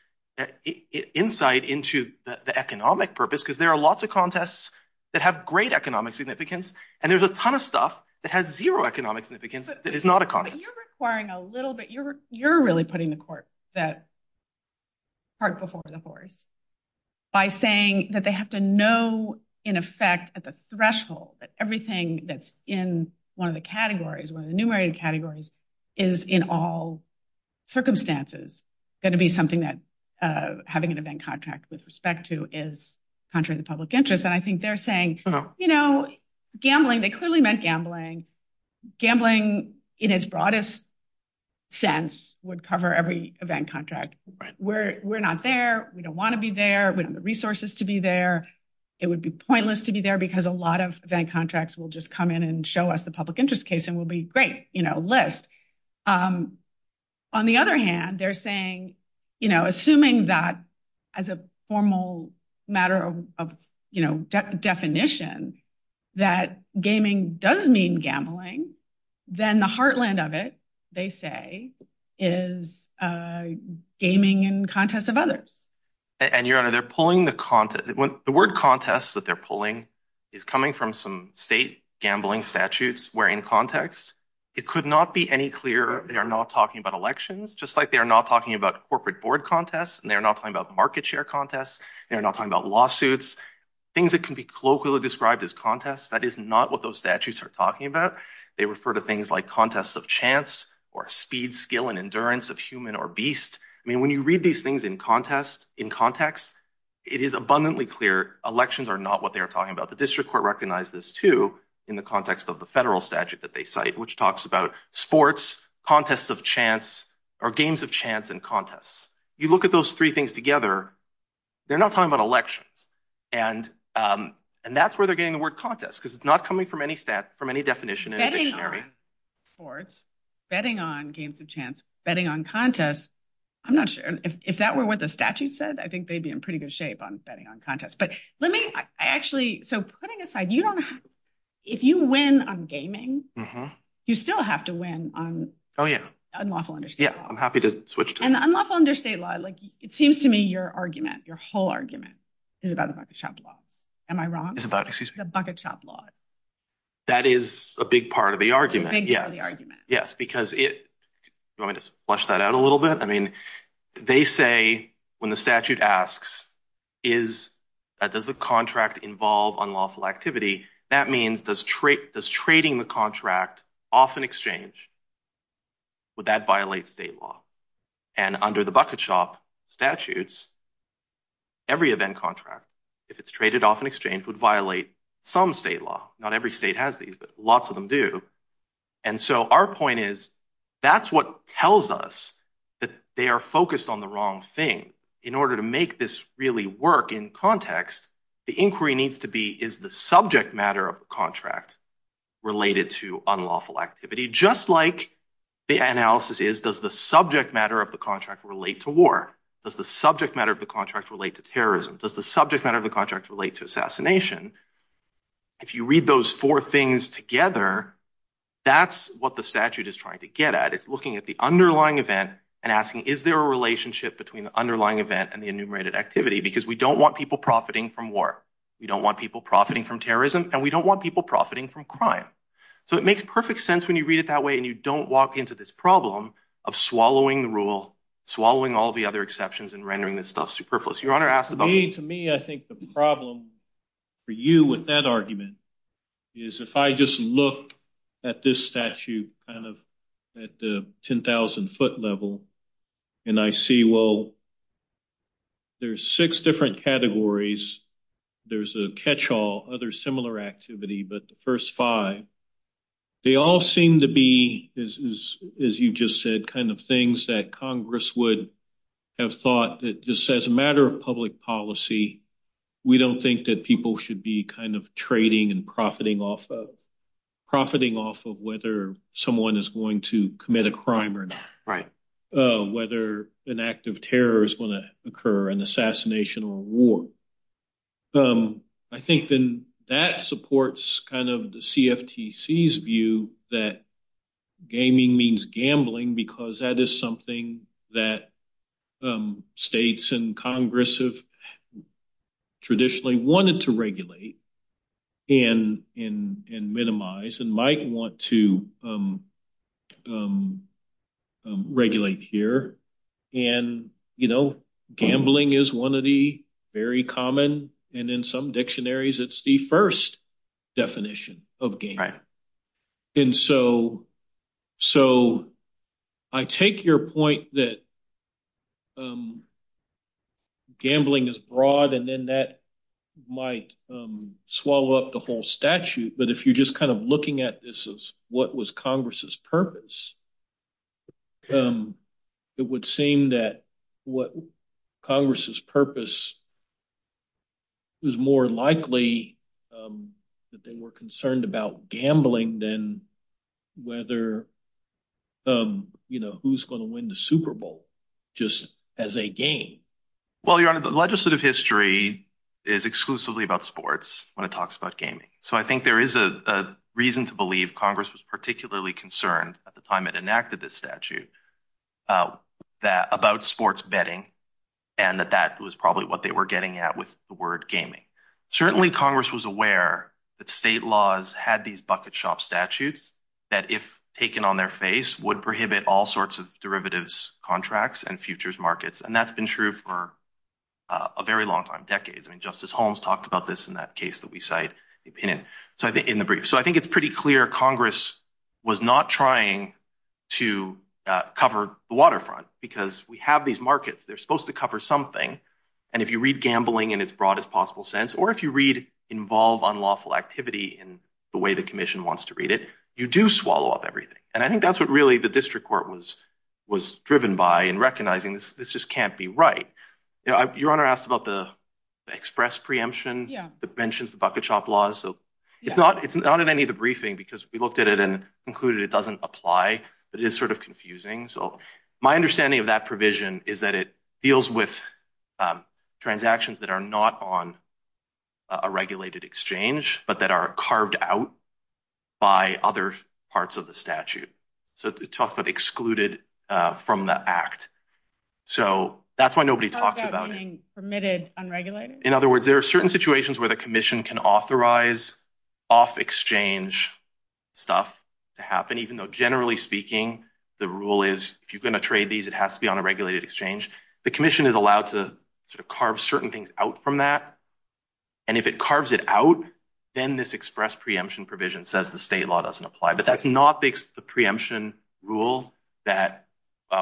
insight into the economic purpose, because there are lots of contests that have great economic significance. And there's a ton of stuff that has zero economic significance that is not a contest. You're requiring a little bit. You're really putting the court that part before the forest by saying that they have to know in effect at the threshold that everything that's in one of the categories, one of the numerator categories is in all circumstances. That'd be something that having an event contract with respect to is contrary to public interest. And I think they're saying, you know, gambling, they clearly meant gambling. Gambling in its broadest sense would cover every event contract. We're not there. We don't want to be there. We don't have the resources to be there. It would be pointless to be there because a lot of event contracts will just come in and show us the public interest case and we'll be great, you know, list. On the other hand, they're saying, you know, assuming that as a formal matter of, you know, definition that gaming does mean gambling, then the heartland of it, they say, is gaming in contest of others. And you're out of there pulling the content. The word contest that they're pulling is coming from some state gambling statutes. We're in context. It could not be any clearer. They are not talking about elections, just like they are not talking about corporate board contests and they're not talking about market share contests. They're not talking about lawsuits, things that can be colloquially described as contests. That is not what those statutes are talking about. They refer to things like contests of chance or speed, skill and endurance of human or beast. I mean, when you read these things in context, it is abundantly clear elections are not what they're talking about. The district court recognized this too in the context of the federal statute that they cite, which talks about sports, contests of chance or games of chance and contests. You look at those three things together, they're not talking about elections. And that's where they're getting the word contest because it's not coming from any stat, from any definition. Betting on sports, betting on games of chance, betting on contests. I'm not sure if that were what the statute said. I think they'd be in pretty good shape on betting on contests. But let me actually, so putting aside, if you win on gaming, you still have to win on- Oh yeah. Unlawful under state law. Yeah, I'm happy to switch to that. And unlawful under state law, it seems to me your argument, your whole argument is about the bucket shop law. Am I wrong? It's about, excuse me. The bucket shop law. That is a big part of the argument. It's a big part of the argument. Yes, because it, do you want me to flush that out a little bit? I mean, they say when the statute asks, does the contract involve unlawful activity? That means does trading the contract off an exchange, would that violate state law? And under the bucket shop statutes, every event contract, if it's traded off an exchange, would violate some state law. Not every state has these, but lots of them do. And so our point is, that's what tells us that they are focused on the wrong thing. In order to make this really work in context, the inquiry needs to be, is the subject matter of the contract related to unlawful activity? Just like the analysis is, does the subject matter of the contract relate to war? Does the subject matter of the contract relate to terrorism? Does the subject matter of the contract relate to assassination? If you read those four things together, that's what the statute is trying to get at. It's looking at the underlying event and asking, is there a relationship between the underlying event and the enumerated activity? Because we don't want people profiting from war. We don't want people profiting from terrorism and we don't want people profiting from crime. So it makes perfect sense when you read it that way and you don't walk into this problem of swallowing rule, swallowing all the other exceptions and rendering this not superfluous. Your Honor asked about- To me, I think the problem for you with that argument is if I just look at this statute at the 10,000 foot level and I see, well, there's six different categories. There's a catchall, other similar activity, but the first five, they all seem to be, as you just said, things that Congress would have thought that just as a matter of public policy, we don't think that people should be trading and profiting off of whether someone is going to commit a crime or not, whether an act of terror is going to occur, an assassination or a war. So I think then that supports kind of the CFTC's view that gaming means gambling because that is something that states and Congress have traditionally wanted to regulate and minimize and might want to regulate here. And gambling is one of the very common, and in some dictionaries, it's the first definition of game. And so I take your point that gambling is broad and then that might swallow up the whole statute. But if you're just kind of looking at this as what was Congress's purpose, it would seem that what Congress's purpose is more likely that they were concerned about gambling than whether who's going to win the just as a game. Well, Your Honor, the legislative history is exclusively about sports when it talks about gaming. So I think there is a reason to believe Congress was particularly concerned at the time it enacted this statute about sports betting and that that was probably what they were getting at with the word gaming. Certainly Congress was aware that state laws had these bucket shop statutes that if taken on their face would prohibit all sorts of derivatives contracts and futures markets. And that's been true for a very long time, decades. I mean, Justice Holmes talked about this in that case that we cite in the brief. So I think it's pretty clear Congress was not trying to cover the waterfront because we have these markets. They're supposed to cover something. And if you read gambling in its broadest possible sense, or if you read involve unlawful activity in the way the commission wants to read it, you do swallow up everything. And I think that's what really the district court was driven by in recognizing this just can't be right. Your Honor asked about the express preemption, the pensions, the bucket shop laws. So it's not in any of the briefing because we looked at it and concluded it doesn't apply, but it is sort of confusing. So my understanding of that provision is that it deals with transactions that are not on a regulated exchange, but that are carved out by other parts of the statute. So it talks about excluded from the act. So that's why nobody talks about it. Permitted unregulated? In other words, there are certain situations where the commission can authorize off exchange stuff to happen, even though generally speaking, the rule is if you're going to trade these, it has to be on a regulated exchange. The commission is allowed to sort of carves it out. Then this express preemption provision says the state law doesn't apply, but that's not the preemption rule that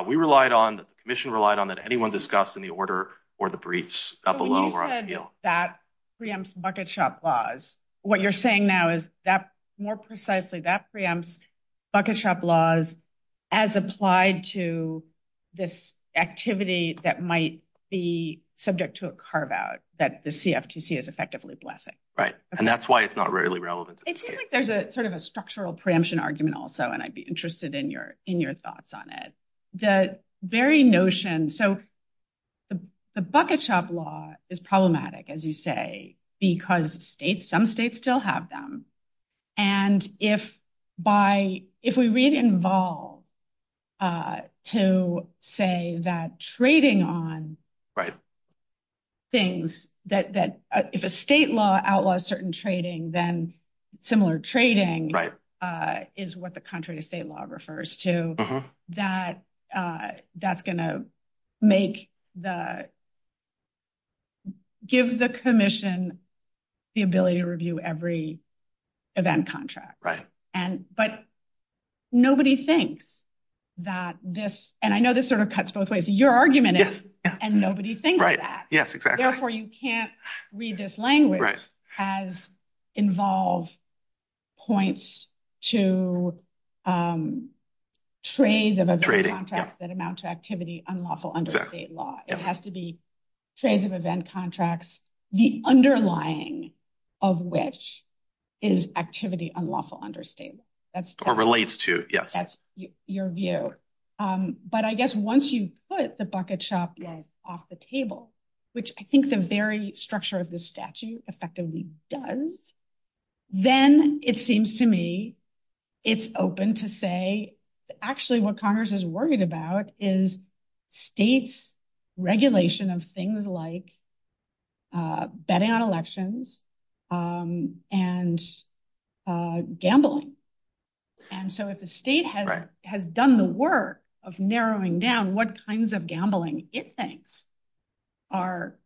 we relied on, that the commission relied on, that anyone discussed in the order or the briefs up below. When you said that preempts bucket shop laws, what you're saying now is that more precisely, that preempts bucket shop laws as applied to this activity that might be subject to a carve out, that the CFTC is effectively blessing. Right. And that's why it's not really relevant. It seems like there's a sort of a structural preemption argument also, and I'd be interested in your thoughts on it. The very notion, so the bucket shop law is problematic, as you say, because states, some states still have them. And if by, if we read involved to say that trading on things, that if a state law outlaws certain trading, then similar trading is what the country of state law refers to, that that's going to make the, give the commission the ability to review every event contract. Right. And, but nobody thinks that this, and I know this sort of cuts both ways, your argument is, and nobody thinks of that. Right. Yes, exactly. Therefore, you can't read this language as involved points to a trade that amounts to activity unlawful under state law. It has to be trades of event contracts, the underlying of which is activity unlawful under state. That's what relates to your view. But I guess once you put the bucket shop off the table, which I think the very structure of the statute effectively does, then it seems to me, it's open to say actually what Congress is worried about is state's regulation of things like betting on elections and gambling. And so if the state has done the work of narrowing down what kinds of gambling it thinks are,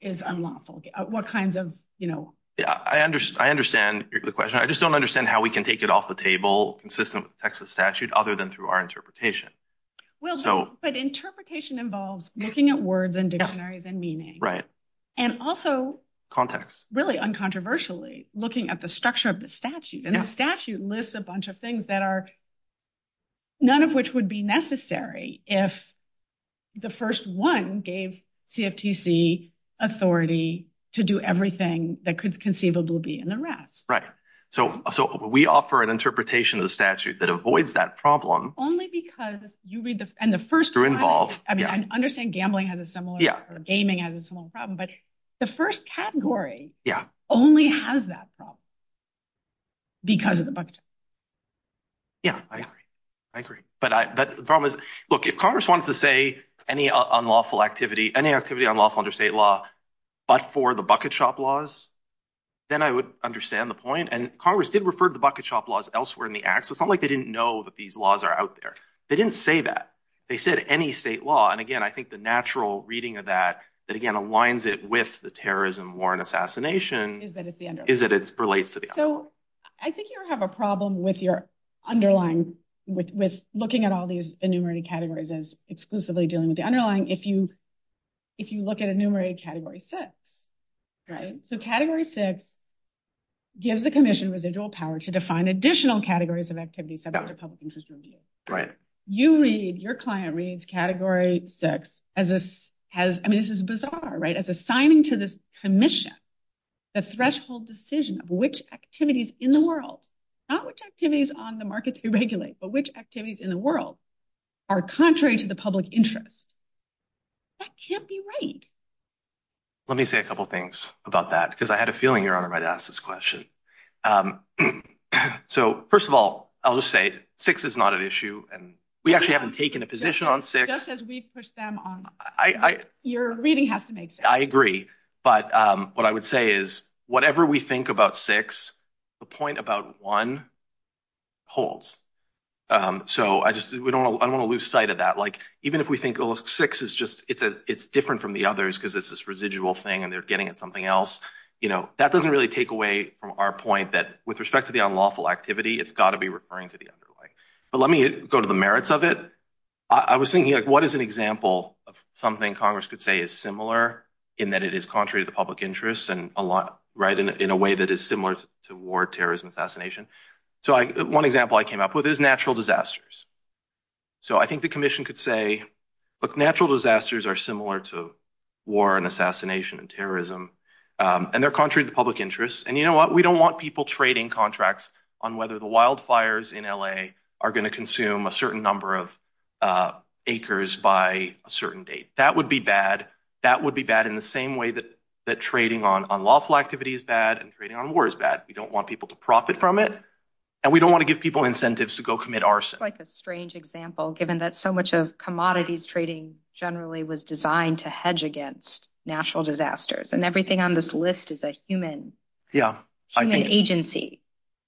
is unlawful, what kinds of, you know. Yeah, I understand, the question, I just don't understand how we can take it off the table, consistent with the Texas statute, other than through our interpretation. Well, but interpretation involves looking at words and dictionaries and meaning. Right. And also. Context. Really uncontroversially looking at the structure of the statute, and the statute lists a bunch of things that are, none of which would be necessary if the first one gave CFTC authority to do everything that could conceivably be an arrest. Right. So we offer an interpretation of the statute that avoids that problem. Only because you read the, and the first. They're involved. I mean, I understand gambling has a similar. Yeah. Gaming has a similar problem, but the first category. Yeah. Only has that problem because of the bucket shop. Yeah, I agree. I agree. But the problem is, look, if Congress wants to say any unlawful activity, any activity unlawful under state law, but for the bucket shop laws, then I would understand the point. And Congress did refer to the bucket shop laws elsewhere in the act. So it's not like they didn't know that these laws are out there. They didn't say that. They said any state law. And again, I think the natural reading of that, that again, aligns it with the terrorism, war, and assassination. Is that it's the underlying. Is that it relates to the underlying. So I think you have a problem with your underlying, with looking at all these enumerated categories as exclusively dealing with the underlying. If you, if you look at enumerated category six, right? So category six gives the commission residual power to define additional categories of activities subject to public interest review. Right. You read, your client reads category six as this has, I mean, this is bizarre, right? As assigning to this commission, the threshold decision of which activities in the world, not which activities on the market they regulate, but which activities in the world are contrary to the public interest. That can't be right. Let me say a couple of things about that, because I had a feeling your honor might ask this question. So first of all, I'll just say six is not an issue. And we actually haven't taken a position on six. Just as we push them on. Your reading has to make sense. I agree. But what I would say is whatever we think about six, the point about one holds. So I just, we don't, I don't want to lose sight of that. Like, even if we think, oh, six is just, it's a, it's different from the others because it's this residual thing and they're getting at something else. You know, that doesn't really take away from our point that with respect to the unlawful activity, it's got to be referring to the other way. But let me go to the merits of it. I was thinking like, what is an example of something Congress could say is similar in that it is contrary to the public interest and in a way that is similar to war, terrorism, assassination. So one example I came up with is natural disasters. So I think the commission could say, but natural disasters are similar to war and assassination and terrorism. And they're contrary to public interest. And you know what, we don't want people trading contracts on whether the wildfires in LA are going to consume a certain number of acres by a certain date. That would be bad. That would be bad in the same way that trading on unlawful activity is bad and trading on war is bad. We don't want people to profit from it and we don't want to give people incentives to go commit arson. Like a strange example, given that so much of commodities trading generally was designed to hedge against natural disasters and everything on this list is a human agency.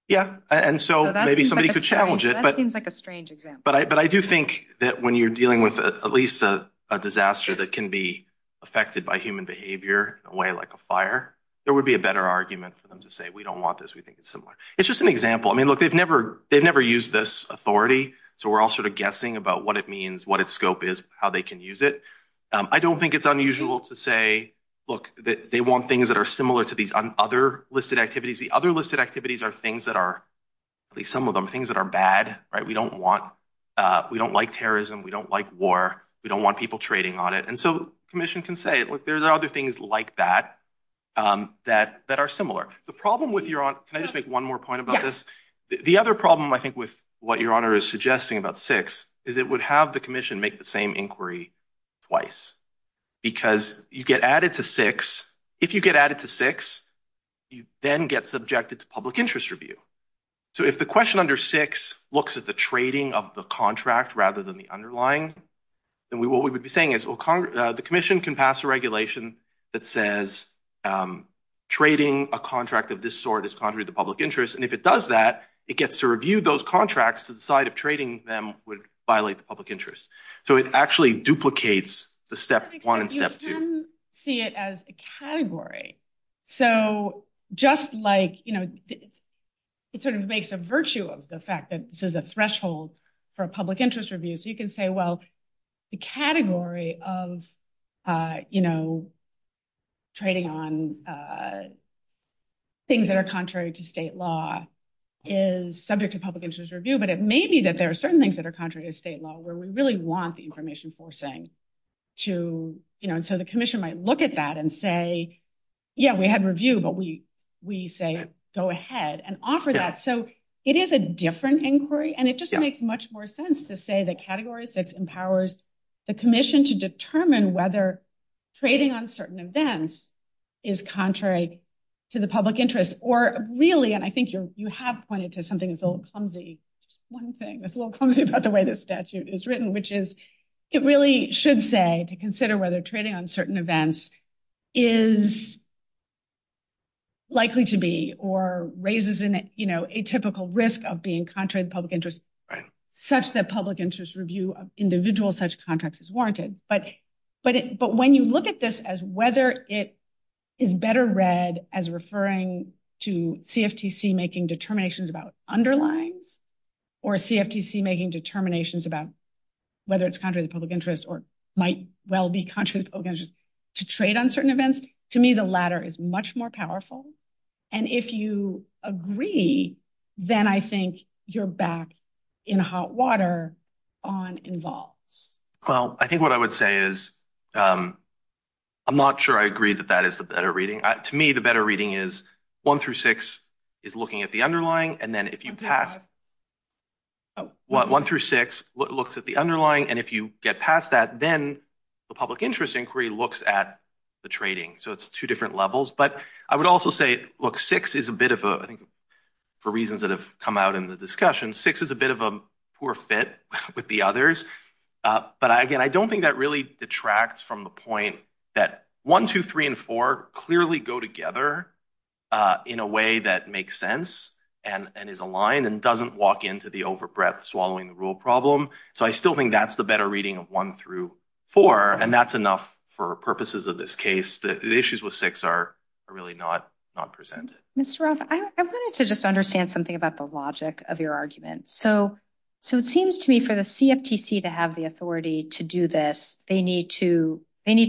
Yeah. And so maybe somebody could challenge it, but it seems like a strange example. But I do think that when you're dealing at least a disaster that can be affected by human behavior in a way like a fire, there would be a better argument for them to say, we don't want this. We think it's similar. It's just an example. I mean, look, they've never used this authority. So we're all sort of guessing about what it means, what its scope is, how they can use it. I don't think it's unusual to say, look, they want things that are similar to these other listed activities. The other listed activities are things that are, at least some of them, things that are bad. We don't want, we don't like terrorism. We don't like war. We don't want people trading on it. And so commission can say, look, there's other things like that, that, that are similar. The problem with your, can I just make one more point about this? The other problem, I think, with what your honor is suggesting about six is it would have the commission make the same inquiry twice because you get added to six. If you get added to six, you then get subjected to public interest. And if it does that, it gets to review those contracts to the side of trading them would violate the public interest. So it actually duplicates the step one and step two. You see it as a category. So just like, you know, it sort of makes a virtue of the fact that this threshold for a public interest review. So you can say, well, the category of, you know, trading on things that are contrary to state law is subject to public interest review. But it may be that there are certain things that are contrary to state law where we really want the information forcing to, you know, so the commission might look at that and say, yeah, we had review, but we, say, go ahead and offer that. So it is a different inquiry and it just makes much more sense to say the categories that empowers the commission to determine whether trading on certain events is contrary to the public interest or really, and I think you have pointed to something that's a little clumsy. One thing that's a little clumsy about the way the statute is written, which is it really should say to consider whether trading on certain events is likely to be, or raises in it, you know, a typical risk of being contrary to public interest, such that public interest review of individual such contracts is warranted. But when you look at this as whether it is better read as referring to CFTC making determinations about underlines or CFTC making determinations about whether it's contrary to public interest or might well be contrary to public interest to trade on certain events, to me, the latter is much more powerful. And if you agree, then I think you're back in hot water on involves. Well, I think what I would say is I'm not sure I agree that that is the better reading. To me, the better reading is one through six is looking at the underlying. And then if you pass one through six looks at the underlying, and if you get past that, then the public interest inquiry looks at the trading. So it's two different levels. But I would also say, look, six is a bit of a, I think for reasons that have come out in the discussion, six is a bit of a poor fit with the others. But again, I don't think that really detracts from the point that one, two, three, and four clearly go together in a way that makes sense and is aligned and doesn't walk into the overbreadth swallowing the rule problem. So I still think that's the better reading of one through four. And that's enough for purposes of this case. The issues with six are really not presented. Mr. Roth, I wanted to just understand something about the logic of your argument. So it seems to me for the CFTC to have the authority to do this, they need to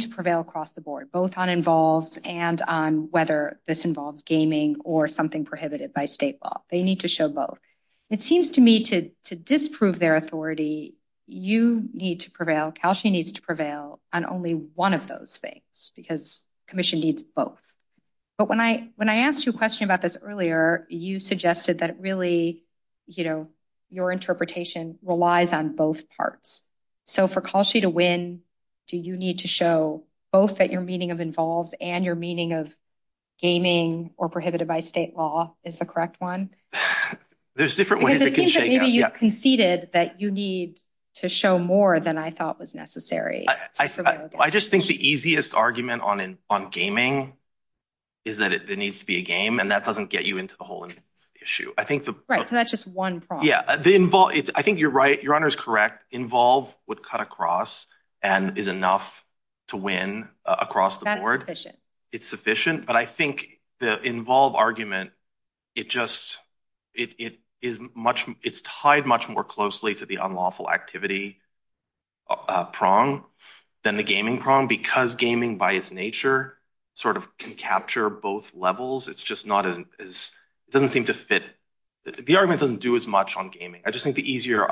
prevail across the board, both on involved and on whether this involves gaming or something prohibited by state law. They need to show both. It seems to me to disprove their authority, you need to prevail, CalSHE needs to prevail on only one of those things because commission needs both. But when I asked you a question about this earlier, you suggested that really, you know, your interpretation relies on both parts. So for CalSHE to win, do you need to show both that your meaning of involved and your meaning of gaming or prohibited by state law is the correct one? There's different ways. It seems to me you conceded that you need to show more than I thought was necessary. I just think the easiest argument on gaming is that it needs to be a game and that doesn't get you into the whole issue. Right, so that's just one prong. Yeah, I think you're right. Your honor is correct. Involved would cut across and is enough to win across the board. It's sufficient, but I think the involved argument, it's tied much more closely to the unlawful activity prong than the gaming prong because gaming by its nature sort of can capture both levels. It's just doesn't seem to fit. The argument doesn't do as much on gaming. I just think the easier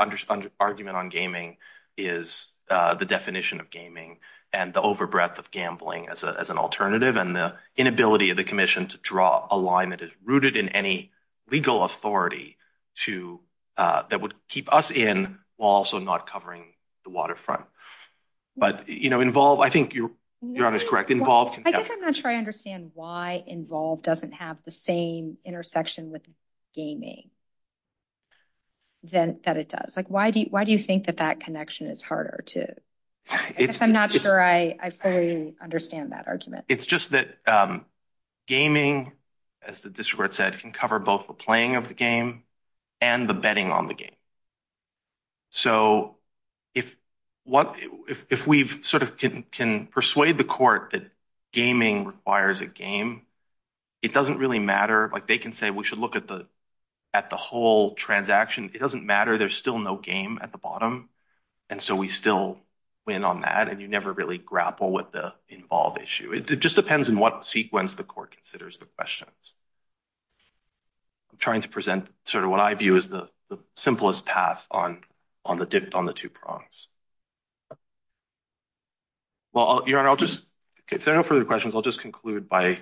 argument on gaming is the definition of gaming and the overbreadth of gambling as an alternative and the inability of the commission to draw a line that is rooted in any legal authority that would keep us in while also not covering the waterfront. But, you know, involved, I think you're honest. Correct. Involved. I think I'm not sure I understand why involved doesn't have the same intersection with gaming that it does. Like, why do you think that that connection is harder to? I'm not sure I fully understand that argument. It's just that gaming, as the district said, can cover both the playing of the game and the betting on the game. So if we've sort of can persuade the court that gaming requires a game, it doesn't really matter. Like they can say we should look at the at the whole transaction. It doesn't matter. There's still no game at the bottom. And so we still win on that. And you never really grapple with the involved issue. It just depends on what sequence the court considers the questions. I'm trying to present sort of what I pass on the two prongs. Well, I'll just, if there are no further questions, I'll just conclude by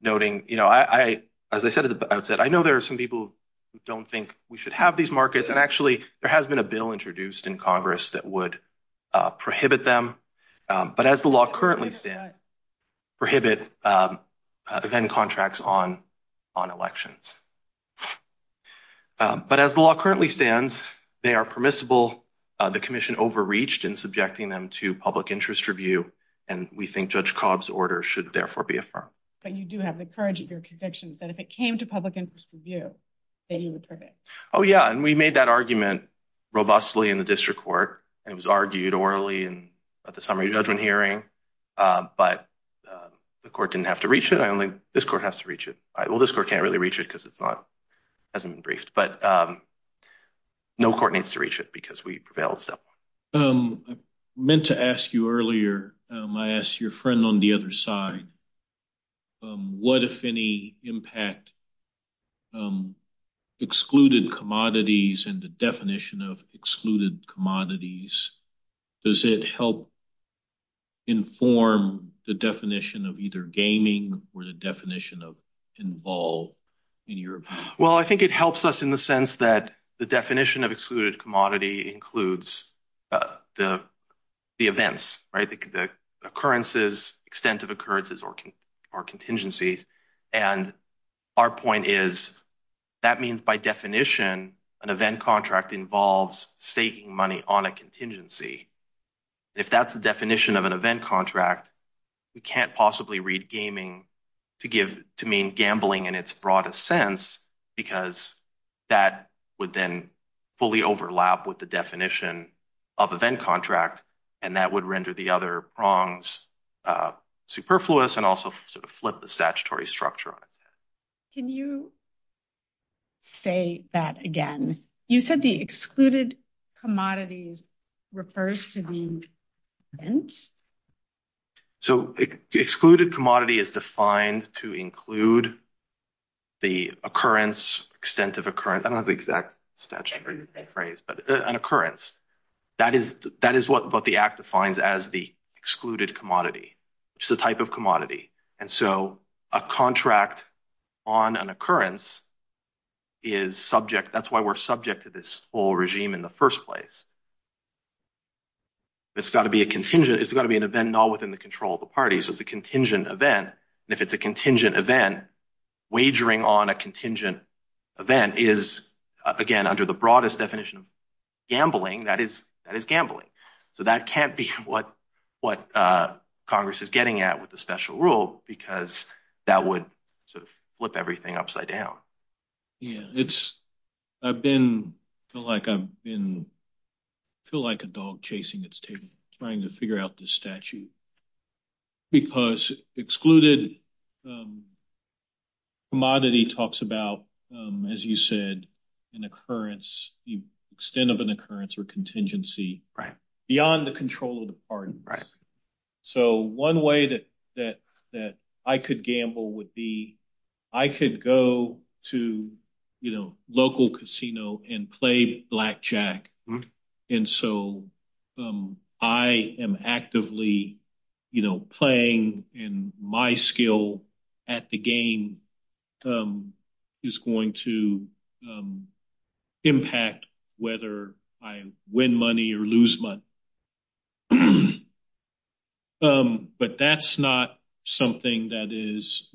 noting, you know, as I said at the outset, I know there are some people who don't think we should have these markets. And actually, there has been a bill introduced in Congress that would prohibit them. But as the law currently says, prohibit event contracts on elections. But as the law currently stands, they are permissible. The commission overreached in subjecting them to public interest review. And we think Judge Cobb's order should therefore be affirmed. But you do have the courage of your convictions that if it came to public interest review, that you would prohibit. Oh, yeah. And we made that argument robustly in the district court. It was argued orally and at the summary judgment hearing. But the court didn't have to reach it. This court has to reach it. Well, this court can't really reach it because it's not, hasn't been briefed. But no court needs to reach it because we prevailed. Meant to ask you earlier, I asked your friend on the other side, what, if any, impact excluded commodities and the definition of excluded commodities? Does it help inform the definition of either gaming or the definition of involved in your opinion? Well, I think it helps us in the sense that the definition of excluded commodity includes the events, right? The occurrences, extent of occurrences or contingencies. And our point is, that means by definition, an event contract involves staking money on a contingency. If that's the definition of an event contract, we can't possibly read gaming to give, to mean gambling in its broadest sense, because that would then fully overlap with the definition of event contract. And that would render the other prongs superfluous and also flip the statutory structure. Can you say that again? You said the excluded commodities refers to the event? So excluded commodity is defined to include the occurrence, extent of occurrence. I don't know the exact statute or phrase, but an occurrence, that is what the act defines as the excluded commodity, which is the type of commodity. And so a contract on an occurrence is subject, that's why we're subject to this whole regime in the first place. It's gotta be a contingent, it's gotta be an event all within the control of the parties as a contingent event. And if it's a contingent event, wagering on a contingent event is again, under the broadest definition of gambling, that is gambling. So that can't be what Congress is getting at with the special rule because that would sort of flip everything upside down. Yeah. I feel like a dog chasing its tail trying to figure out the statute because excluded commodity talks about, as you said, an occurrence, the extent of an occurrence or contingency beyond the control of the parties. So one way that I could gamble would be, I could go to local casino and play blackjack. And so I am actively playing in my skill at the game is going to impact whether I win money or lose money. But that's not something that is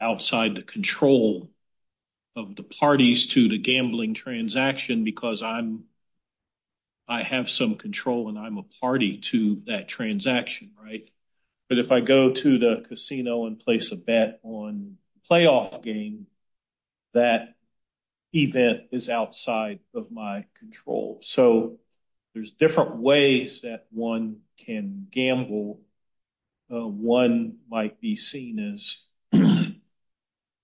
outside the control of the parties to the gambling transaction because I have some control and I'm a party to that transaction, right? But if I go to the casino and place a bet on playoff game, that event is outside of my control. So there's different ways that one can gamble. One might be seen as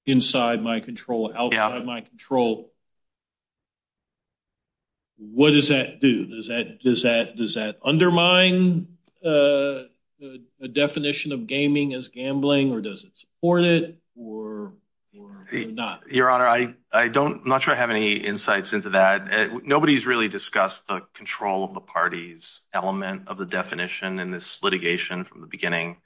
inside my control, out of my control. What does that do? Does that undermine the definition of gaming as gambling or does it support it or not? Your Honor, I don't, I'm not sure I have any insights into that. Nobody's really discussed the control of the parties element of the definition in this litigation from the beginning.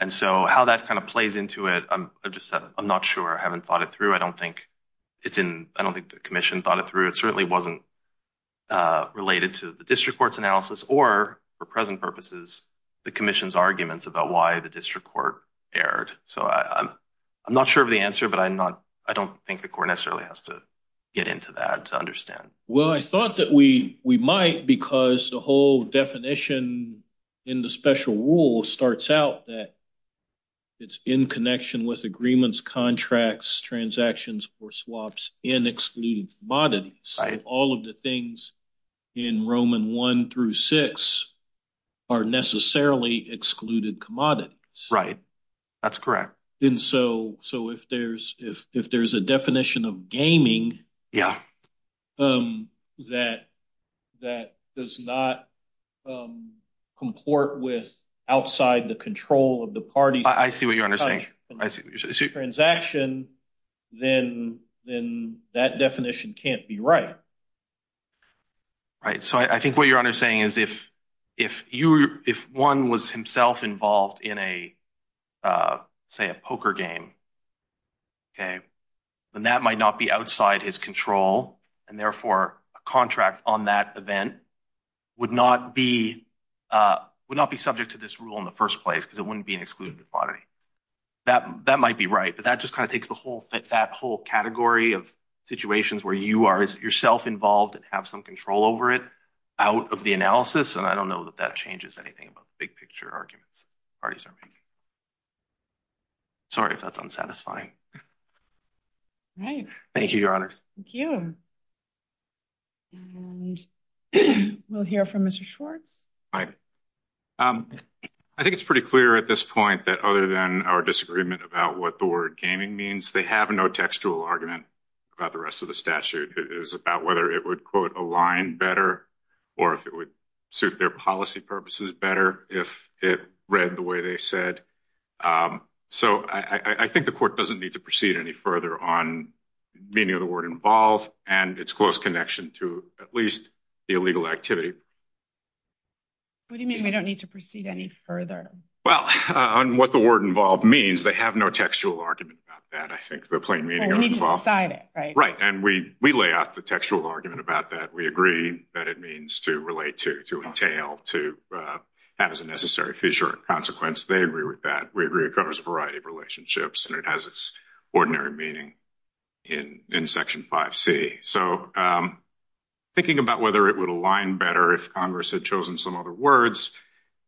And so how that kind of plays into it, I'm just, I'm not sure. I haven't thought it through. I don't think it's in, I don't think the commission thought it through. It certainly wasn't related to the district court's analysis or for present purposes, the commission's arguments about why the district court erred. So I'm not sure of the answer, but I'm not, I don't think the court necessarily has to get into that to understand. Well, I thought that we might because the whole definition in the special rule starts out that it's in connection with agreements, contracts, transactions, or swaps and excluding commodities. All of the things in Roman one through six are necessarily excluded commodities. Right. That's correct. And so, so if there's, if, if there's a definition of gaming that, that does not comport with outside the control of the party, transaction, then, then that definition can't be right. Right. So I think what you're saying is if, if you, if one was himself involved in a, a, say a poker game, okay. Then that might not be outside his control. And therefore a contract on that event would not be, would not be subject to this rule in the first place because it wouldn't be an excluded commodity. That, that might be right, but that just kind of takes the whole, that whole category of situations where you are yourself involved and have some control over it out of the analysis. And I don't know that that changes anything about the big picture arguments parties are making. Sorry if that's unsatisfying. Right. Thank you, your honors. Thank you. And we'll hear from Mr. Schwartz. All right. I think it's pretty clear at this point that other than our disagreement about what the word gaming means, they have no textual argument about the rest of the statute. It is about whether it would quote align better or if it would suit their policy purposes better if it read the way they said. So I think the court doesn't need to proceed any further on meaning of the word involved and its close connection to at least the illegal activity. What do you mean we don't need to proceed any further? Well, on what the word involved means they have no textual argument about that. I think the plain meaning of it. Right. And we, we lay out the textual argument about that. We agree that it to relate to, to entail, to have as a necessary future consequence. They agree with that. We agree it covers a variety of relationships and it has its ordinary meaning in, in section 5C. So thinking about whether it would align better if Congress had chosen some other words,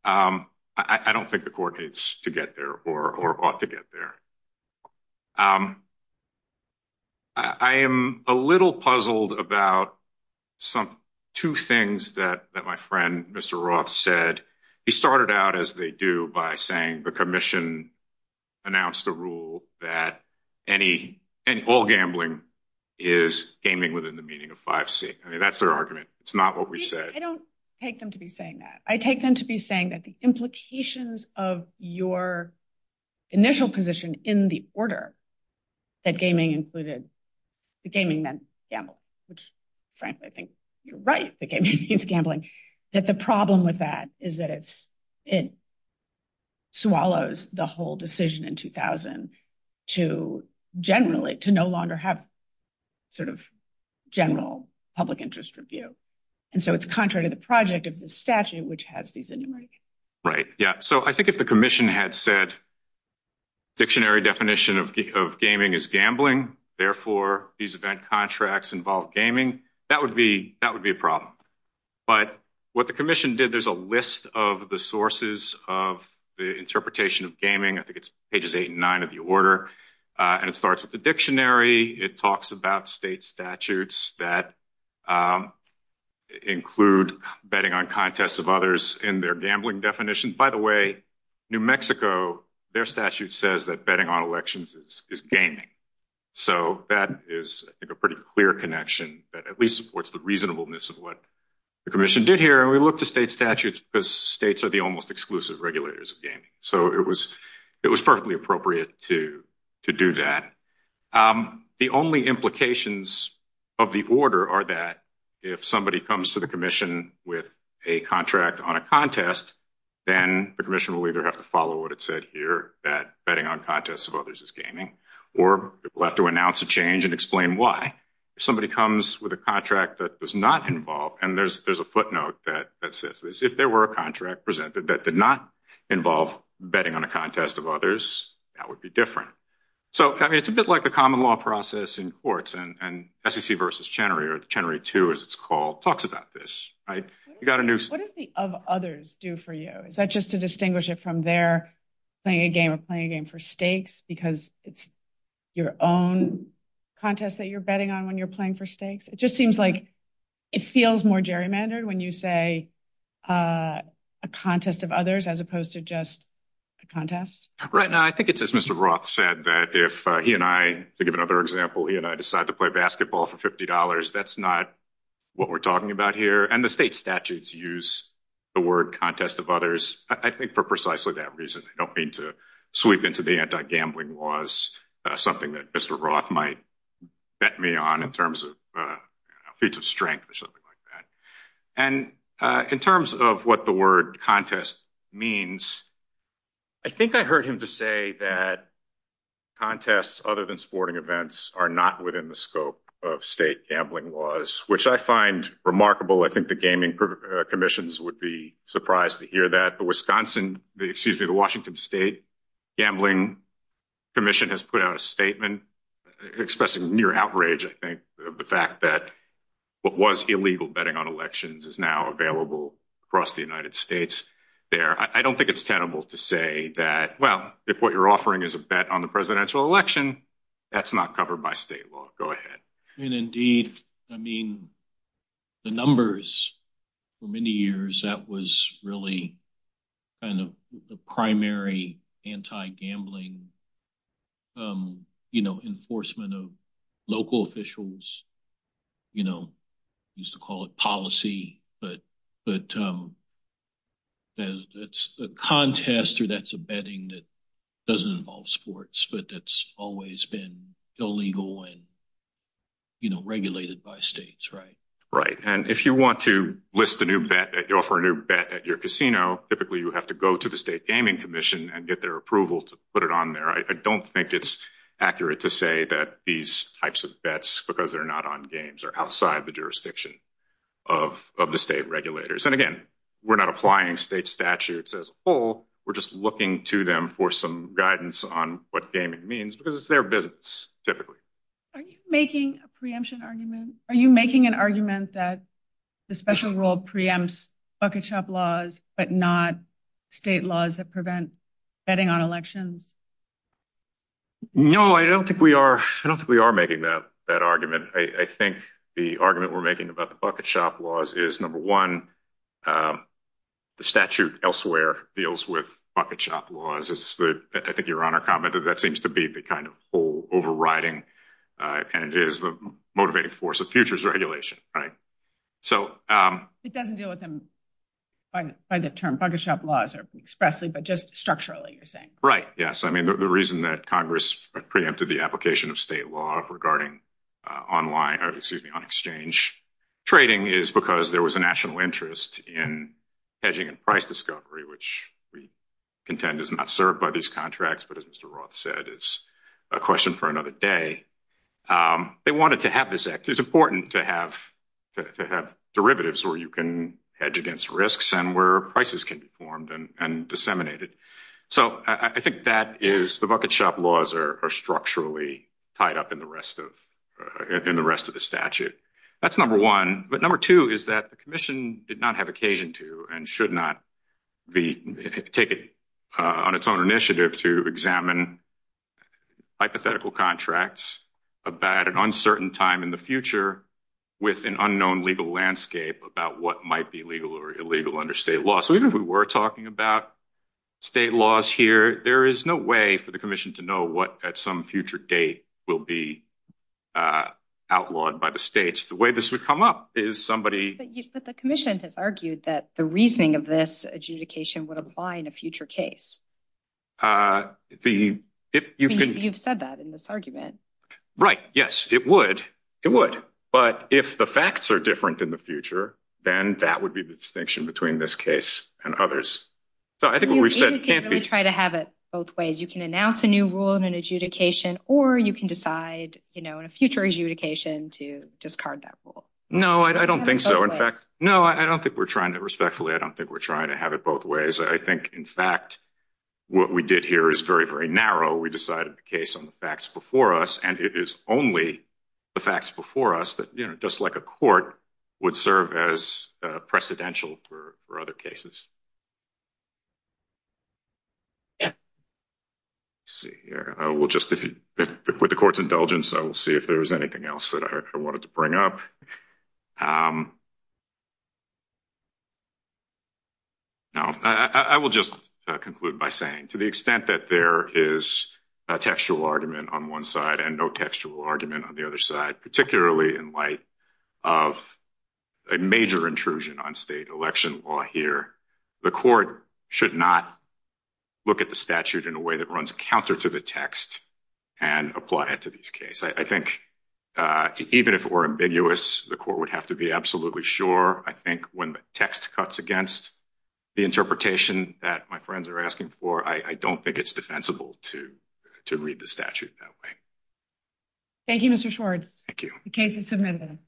I don't think the court needs to get there or ought to get there. Um, I am a little puzzled about some, two things that, that my friend, Mr. Roth said. He started out as they do by saying the commission announced a rule that any, any ball gambling is aiming within the meaning of 5C. I mean, that's their argument. It's not what we said. I don't take them to be saying that. I take them to be saying that the implications of your initial position in the order that gaming included, the gaming then gambled, which frankly, I think you're right. The gaming is gambling. But the problem with that is that it's, it swallows the whole decision in 2000 to generally, to no longer have sort of general public interest review. And so it's contrary to the project of the statute, which has these said dictionary definition of gaming is gambling. Therefore, these event contracts involve gaming. That would be, that would be a problem. But what the commission did, there's a list of the sources of the interpretation of gaming. I think it's pages eight and nine of the order. And it starts with the dictionary. It talks about state statutes that include betting on contests of others and their gambling definition. By the way, New Mexico, their statute says that betting on elections is gaming. So that is a pretty clear connection that at least supports the reasonableness of what the commission did here. And we look to state statutes because states are the almost exclusive regulators of gaming. So it was perfectly appropriate to do that. The only implications of the order are that if somebody comes to the commission with a contract on a contest, then the commission will either have to follow what it said here, that betting on contests of others is gaming, or we'll have to announce a change and explain why. If somebody comes with a contract that does not involve, and there's a footnote that says this, if there were a contract presented that did not involve betting on a contest of others, that would be different. So, I mean, it's a bit like a common law process in courts and SEC versus Chenery, or Chenery 2, as it's called, talks about this. What does the of others do for you? Is that just to distinguish it from their playing a game of playing a game for stakes because it's your own contest that you're betting on when you're playing for stakes? It just seems like it feels more gerrymandered when you say a contest of others as opposed to just a contest. Right now, I think it's as Mr. Roth said that if he and I, to give another example, he and I decide to play basketball for $50, that's not what we're talking about here. And the state statutes use the word contest of others, I think for precisely that reason. I don't mean to sweep into the anti-gambling laws, something that Mr. Roth might bet me on in terms of feats of strength or something like that. And in terms of what the word contest means, I think I heard him to say that contests other than sporting events are not within the scope of state gambling laws, which I find remarkable. I think the gaming commissions would be surprised to hear that. The Washington State Gambling Commission has put out a statement expressing near outrage, I think, the fact that what was illegal betting on elections is now available across the United States there. I don't think it's tenable to say that, well, if what you're offering is a bet on the presidential election, that's not covered by state law. Go ahead. And indeed, I mean, the numbers for many years, that was really kind of the primary anti-gambling enforcement of local officials, you know, used to call it policy, but it's a contest or that's a betting that doesn't involve sports, but that's always been illegal and, you know, regulated by states, right? Right. And if you want to list a new bet, offer a new bet at your casino, typically you have to go to the State Gaming Commission and get their approval to put it on there. I don't think it's accurate to say that these types of bets, because they're not on games, are outside the jurisdiction of the state regulators. And again, we're not applying state statutes as a whole, we're just looking to them for some guidance on what gaming means, because it's their business, typically. Are you making a preemption argument? Are you making an argument that the special rule preempts bucket shop laws, but not state laws that prevent betting on elections? No, I don't think we are. I don't think we are making that argument. I think the argument we're making about the bucket shop laws is, number one, the statute elsewhere deals with bucket shop laws. It's the, I think your Honor commented, that seems to be the kind of whole overriding, and it is the motivating force of futures regulation, right? So... It doesn't deal with them by the term bucket shop laws expressly, but just structurally, right? Yes. I mean, the reason that Congress preempted the application of state law regarding online, excuse me, on exchange trading is because there was a national interest in hedging and price discovery, which we contend is not served by these contracts. But as Mr. Roth said, it's a question for another day. They wanted to have this act. It's important to have derivatives where you can hedge against risks and where prices can be formed and disseminated. So I think that is, the bucket shop laws are structurally tied up in the rest of the statute. That's number one. But number two is that the commission did not have occasion to, and should not, take it on its own initiative to examine hypothetical contracts about an uncertain time in the future with an unknown legal landscape about what might be legal or illegal under state law. So even if we were talking about state laws here, there is no way for the commission to know what at some future date will be outlawed by the states. The way this would come up is somebody... But the commission has argued that the reasoning of this adjudication would apply in a future case. You've said that in this argument. Right. Yes, it would. It would. But if the facts are different in the future, then that would be the distinction between this case and others. So I think what we've said can't be... You can't really try to have it both ways. You can announce a new rule in an adjudication, or you can decide in a future adjudication to discard that rule. No, I don't think so. In fact, no, I don't think we're trying to... Respectfully, I don't think we're trying to have it both ways. I think, in fact, what we did here is very, very narrow. We decided the case on the facts before us, and it is only the facts before us just like a court would serve as precedential for other cases. Let's see here. With the court's indulgence, I will see if there's anything else that I wanted to bring up. No, I will just conclude by saying to the extent that there is a textual argument on one side and no textual argument on the other side, particularly in light of a major intrusion on state election law here, the court should not look at the statute in a way that runs counter to the text and apply it to this case. I think even if it were ambiguous, the court would have to be absolutely sure. I think when the text cuts against the interpretation that my friends are asking for, I don't think it's defensible to read the statute that way. Thank you, Mr. Schwartz. Thank you. The case is submitted.